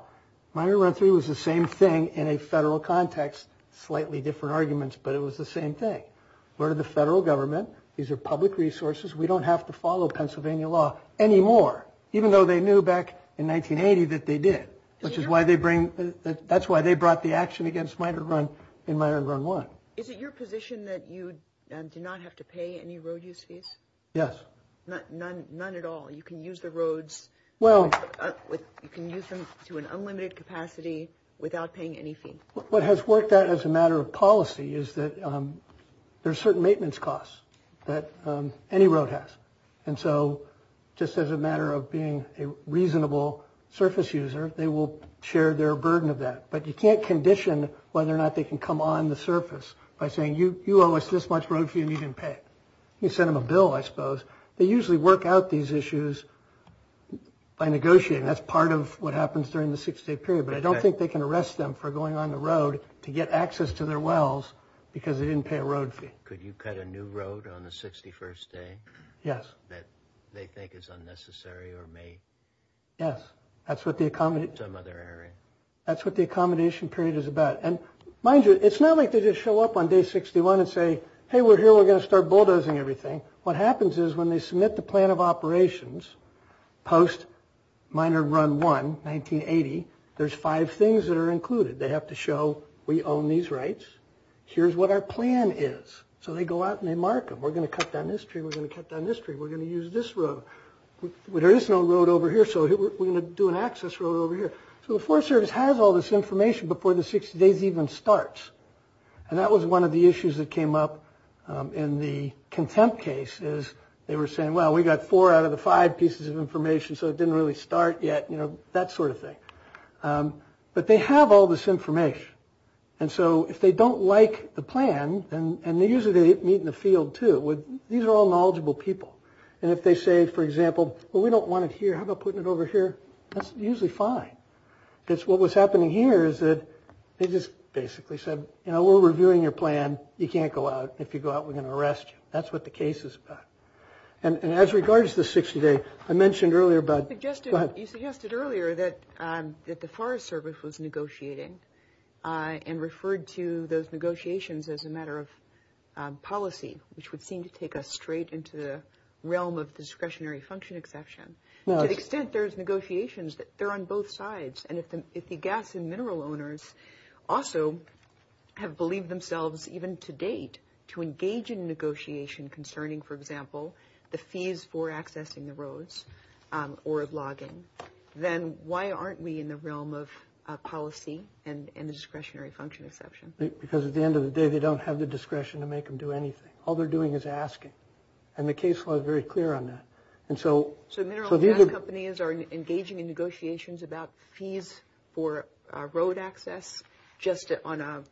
Minard Run 3 was the same thing in a federal context, slightly different arguments, but it was the same thing. We're the federal government. These are public resources. We don't have to follow Pennsylvania law anymore, even though they knew back in 1980 that they did. That's why they brought the action against Minard Run in Minard Run 1. Is it your position that you do not have to pay any road use fees? Yes. None at all? You can use the roads? You can use them to an unlimited capacity without paying anything? What has worked out as a matter of policy is that there are certain maintenance costs that any road has. And so just as a matter of being a reasonable surface user, they will share their burden of that. But you can't condition whether or not they can come on the surface by saying, you owe us this much road fee and you didn't pay it. You send them a bill, I suppose. They usually work out these issues by negotiating. That's part of what happens during the 60-day period. But I don't think they can arrest them for going on the road to get access to their wells because they didn't pay a road fee. Could you cut a new road on the 61st day? Yes. That they think is unnecessary or may be in some other area? Yes. That's what the accommodation period is about. And mind you, it's not like they just show up on day 61 and say, hey, we're here, we're going to start bulldozing everything. What happens is when they submit the plan of operations post minor run 1, 1980, there's five things that are included. They have to show we own these rights. Here's what our plan is. So they go out and they mark them. We're going to cut down this tree. We're going to cut down this tree. We're going to use this road. There is no road over here, so we're going to do an access road over here. So the Forest Service has all this information before the 60 days even starts. And that was one of the issues that came up in the contempt case is they were saying, well, we've got four out of the five pieces of information, so it didn't really start yet, that sort of thing. But they have all this information. And so if they don't like the plan, and they usually meet in the field too. These are all knowledgeable people. And if they say, for example, well, we don't want it here. How about putting it over here? That's usually fine. Because what was happening here is that they just basically said, you know, we're reviewing your plan. You can't go out. If you go out, we're going to arrest you. That's what the case is about. And as regards to 60 days, I mentioned earlier about – You suggested earlier that the Forest Service was negotiating and referred to those negotiations as a matter of policy, which would seem to take us straight into the realm of discretionary function exception. To the extent there's negotiations, they're on both sides. And if the gas and mineral owners also have believed themselves even to date to engage in negotiation concerning, for example, the fees for accessing the roads or logging, then why aren't we in the realm of policy and the discretionary function exception? Because at the end of the day, they don't have the discretion to make them do anything. All they're doing is asking. And the case law is very clear on that. So mineral gas companies are engaging in negotiations about fees for road access just out of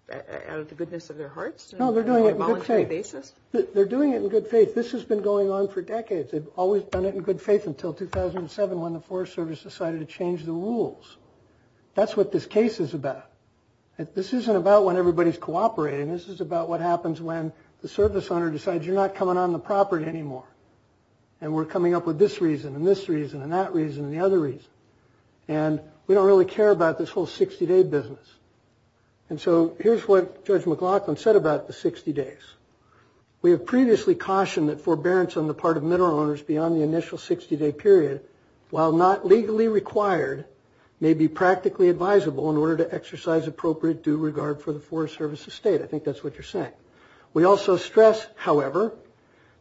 the goodness of their hearts? No, they're doing it in good faith. They're doing it in good faith. This has been going on for decades. They've always done it in good faith until 2007 when the Forest Service decided to change the rules. That's what this case is about. This isn't about when everybody's cooperating. This is about what happens when the service owner decides you're not coming on the property anymore and we're coming up with this reason and this reason and that reason and the other reason. And we don't really care about this whole 60-day business. And so here's what Judge McLaughlin said about the 60 days. We have previously cautioned that forbearance on the part of mineral owners beyond the initial 60-day period, while not legally required, may be practically advisable in order to exercise appropriate due regard for the Forest Service's state. I think that's what you're saying. We also stress, however,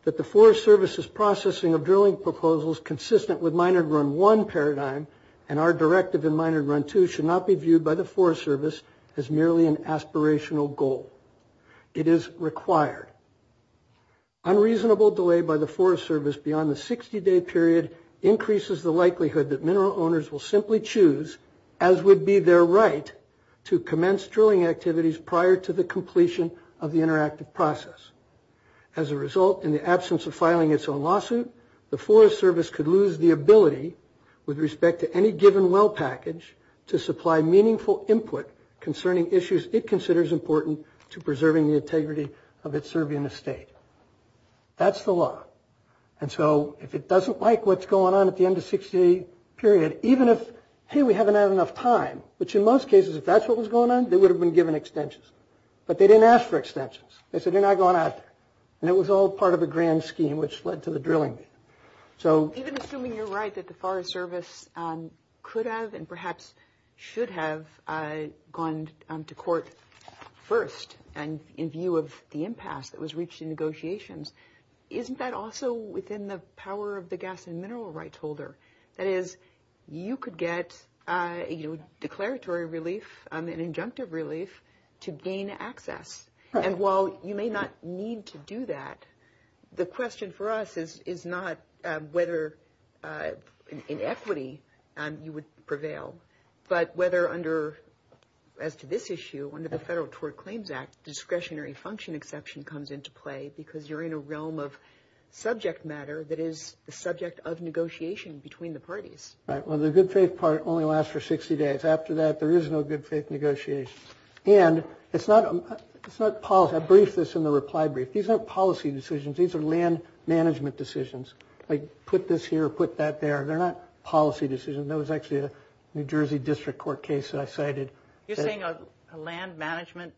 that the Forest Service's processing of drilling proposals consistent with Minard Run 1 paradigm and our directive in Minard Run 2 should not be viewed by the Forest Service as merely an aspirational goal. It is required. Unreasonable delay by the Forest Service beyond the 60-day period increases the likelihood that mineral owners will simply choose, as would be their right, to commence drilling activities prior to the completion of the interactive process. As a result, in the absence of filing its own lawsuit, the Forest Service could lose the ability with respect to any given well package to supply meaningful input concerning issues it considers important to preserving the integrity of its survey in the state. That's the law. And so if it doesn't like what's going on at the end of the 60-day period, even if, hey, we haven't had enough time, which in most cases, if that's what was going on, they would have been given extensions. But they didn't ask for extensions. They said they're not going to ask. And it was all part of a grand scheme which led to the drilling. Even assuming you're right that the Forest Service could have and perhaps should have gone to court first in view of the impasse that was reached in negotiations, isn't that also within the power of the gas and mineral rights holder? That is, you could get declaratory relief and injunctive relief to gain access. And while you may not need to do that, the question for us is not whether in equity you would prevail, but whether under, as to this issue, under the Federal Tort Claims Act, discretionary function exception comes into play because you're in a realm of subject matter that is the subject of negotiation between the parties. Well, the good faith part only lasts for 60 days. After that, there is no good faith negotiation. And it's not policy. I briefed this in the reply brief. These aren't policy decisions. These are land management decisions. Like put this here, put that there. They're not policy decisions. That was actually a New Jersey District Court case that I cited. You're saying a land management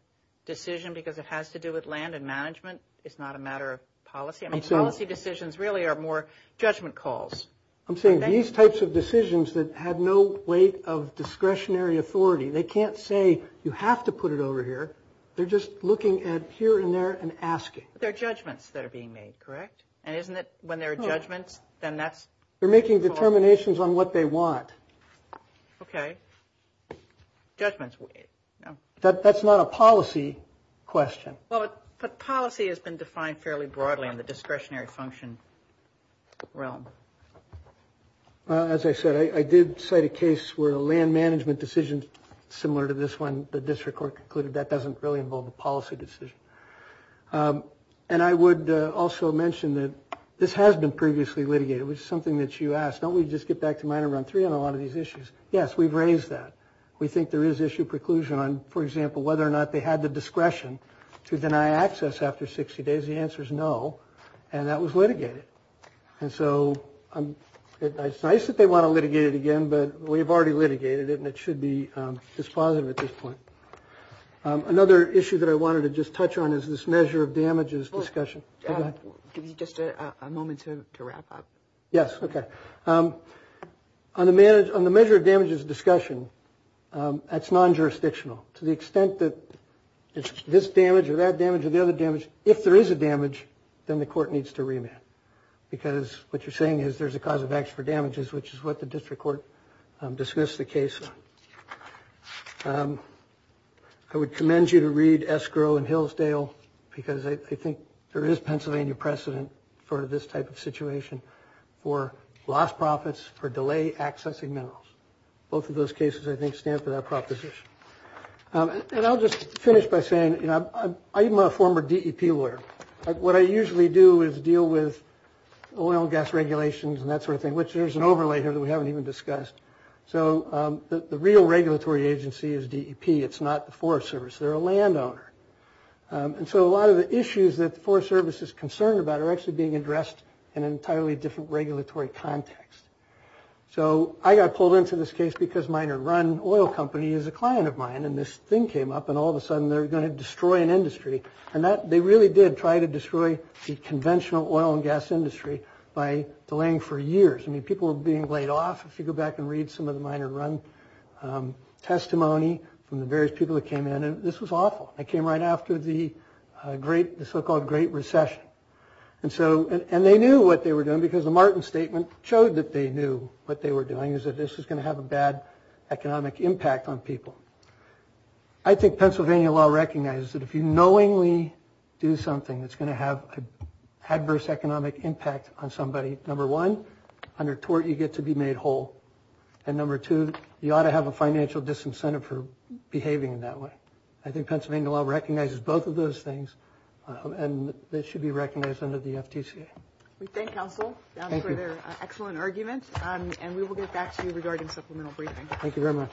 decision because it has to do with land and management? It's not a matter of policy? I mean, policy decisions really are more judgment calls. I'm saying these types of decisions that have no weight of discretionary authority, they can't say you have to put it over here. They're just looking at here and there and asking. They're judgments that are being made, correct? And isn't it when there are judgments, then that's? They're making determinations on what they want. Okay. Judgments. That's not a policy question. But policy has been defined fairly broadly in the discretionary function realm. As I said, I did cite a case where a land management decision similar to this one, the District Court concluded that doesn't really involve a policy decision. And I would also mention that this has been previously litigated, which is something that you asked. Don't we just get back to Minor Round 3 on a lot of these issues? Yes, we've raised that. We think there is issue preclusion on, for example, whether or not they had the discretion to deny access after 60 days. The answer is no, and that was litigated. And so it's nice that they want to litigate it again, but we've already litigated it, and it should be dispositive at this point. Another issue that I wanted to just touch on is this measure of damages discussion. Give you just a moment to wrap up. Yes, okay. On the measure of damages discussion, that's non-jurisdictional. To the extent that it's this damage or that damage or the other damage, if there is a damage, then the court needs to remand, because what you're saying is there's a cause of action for damages, which is what the District Court dismissed the case on. I would commend you to read Escrow and Hillsdale, because I think there is Pennsylvania precedent for this type of situation for lost profits for delay accessing minerals. Both of those cases, I think, stand for that proposition. And I'll just finish by saying, you know, I'm a former DEP lawyer. What I usually do is deal with oil and gas regulations and that sort of thing, which there's an overlay here that we haven't even discussed. So the real regulatory agency is DEP. It's not the Forest Service. They're a landowner. And so a lot of the issues that the Forest Service is concerned about are actually being addressed in an entirely different regulatory context. So I got pulled into this case because Miner Run Oil Company is a client of mine. And this thing came up. And all of a sudden, they're going to destroy an industry. And they really did try to destroy the conventional oil and gas industry by delaying for years. I mean, people were being laid off. If you go back and read some of the Miner Run testimony from the various people that came in, this was awful. They came right after the so-called Great Recession. And they knew what they were doing, because the Martin Statement showed that they knew what they were doing, is that this was going to have a bad economic impact on people. I think Pennsylvania law recognizes that if you knowingly do something that's going to have an adverse economic impact on somebody, number one, under tort you get to be made whole. And number two, you ought to have a financial disincentive for behaving in that way. I think Pennsylvania law recognizes both of those things. And they should be recognized under the FTCA. We thank counsel for their excellent arguments. And we will get back to you regarding supplemental briefing. Thank you very much.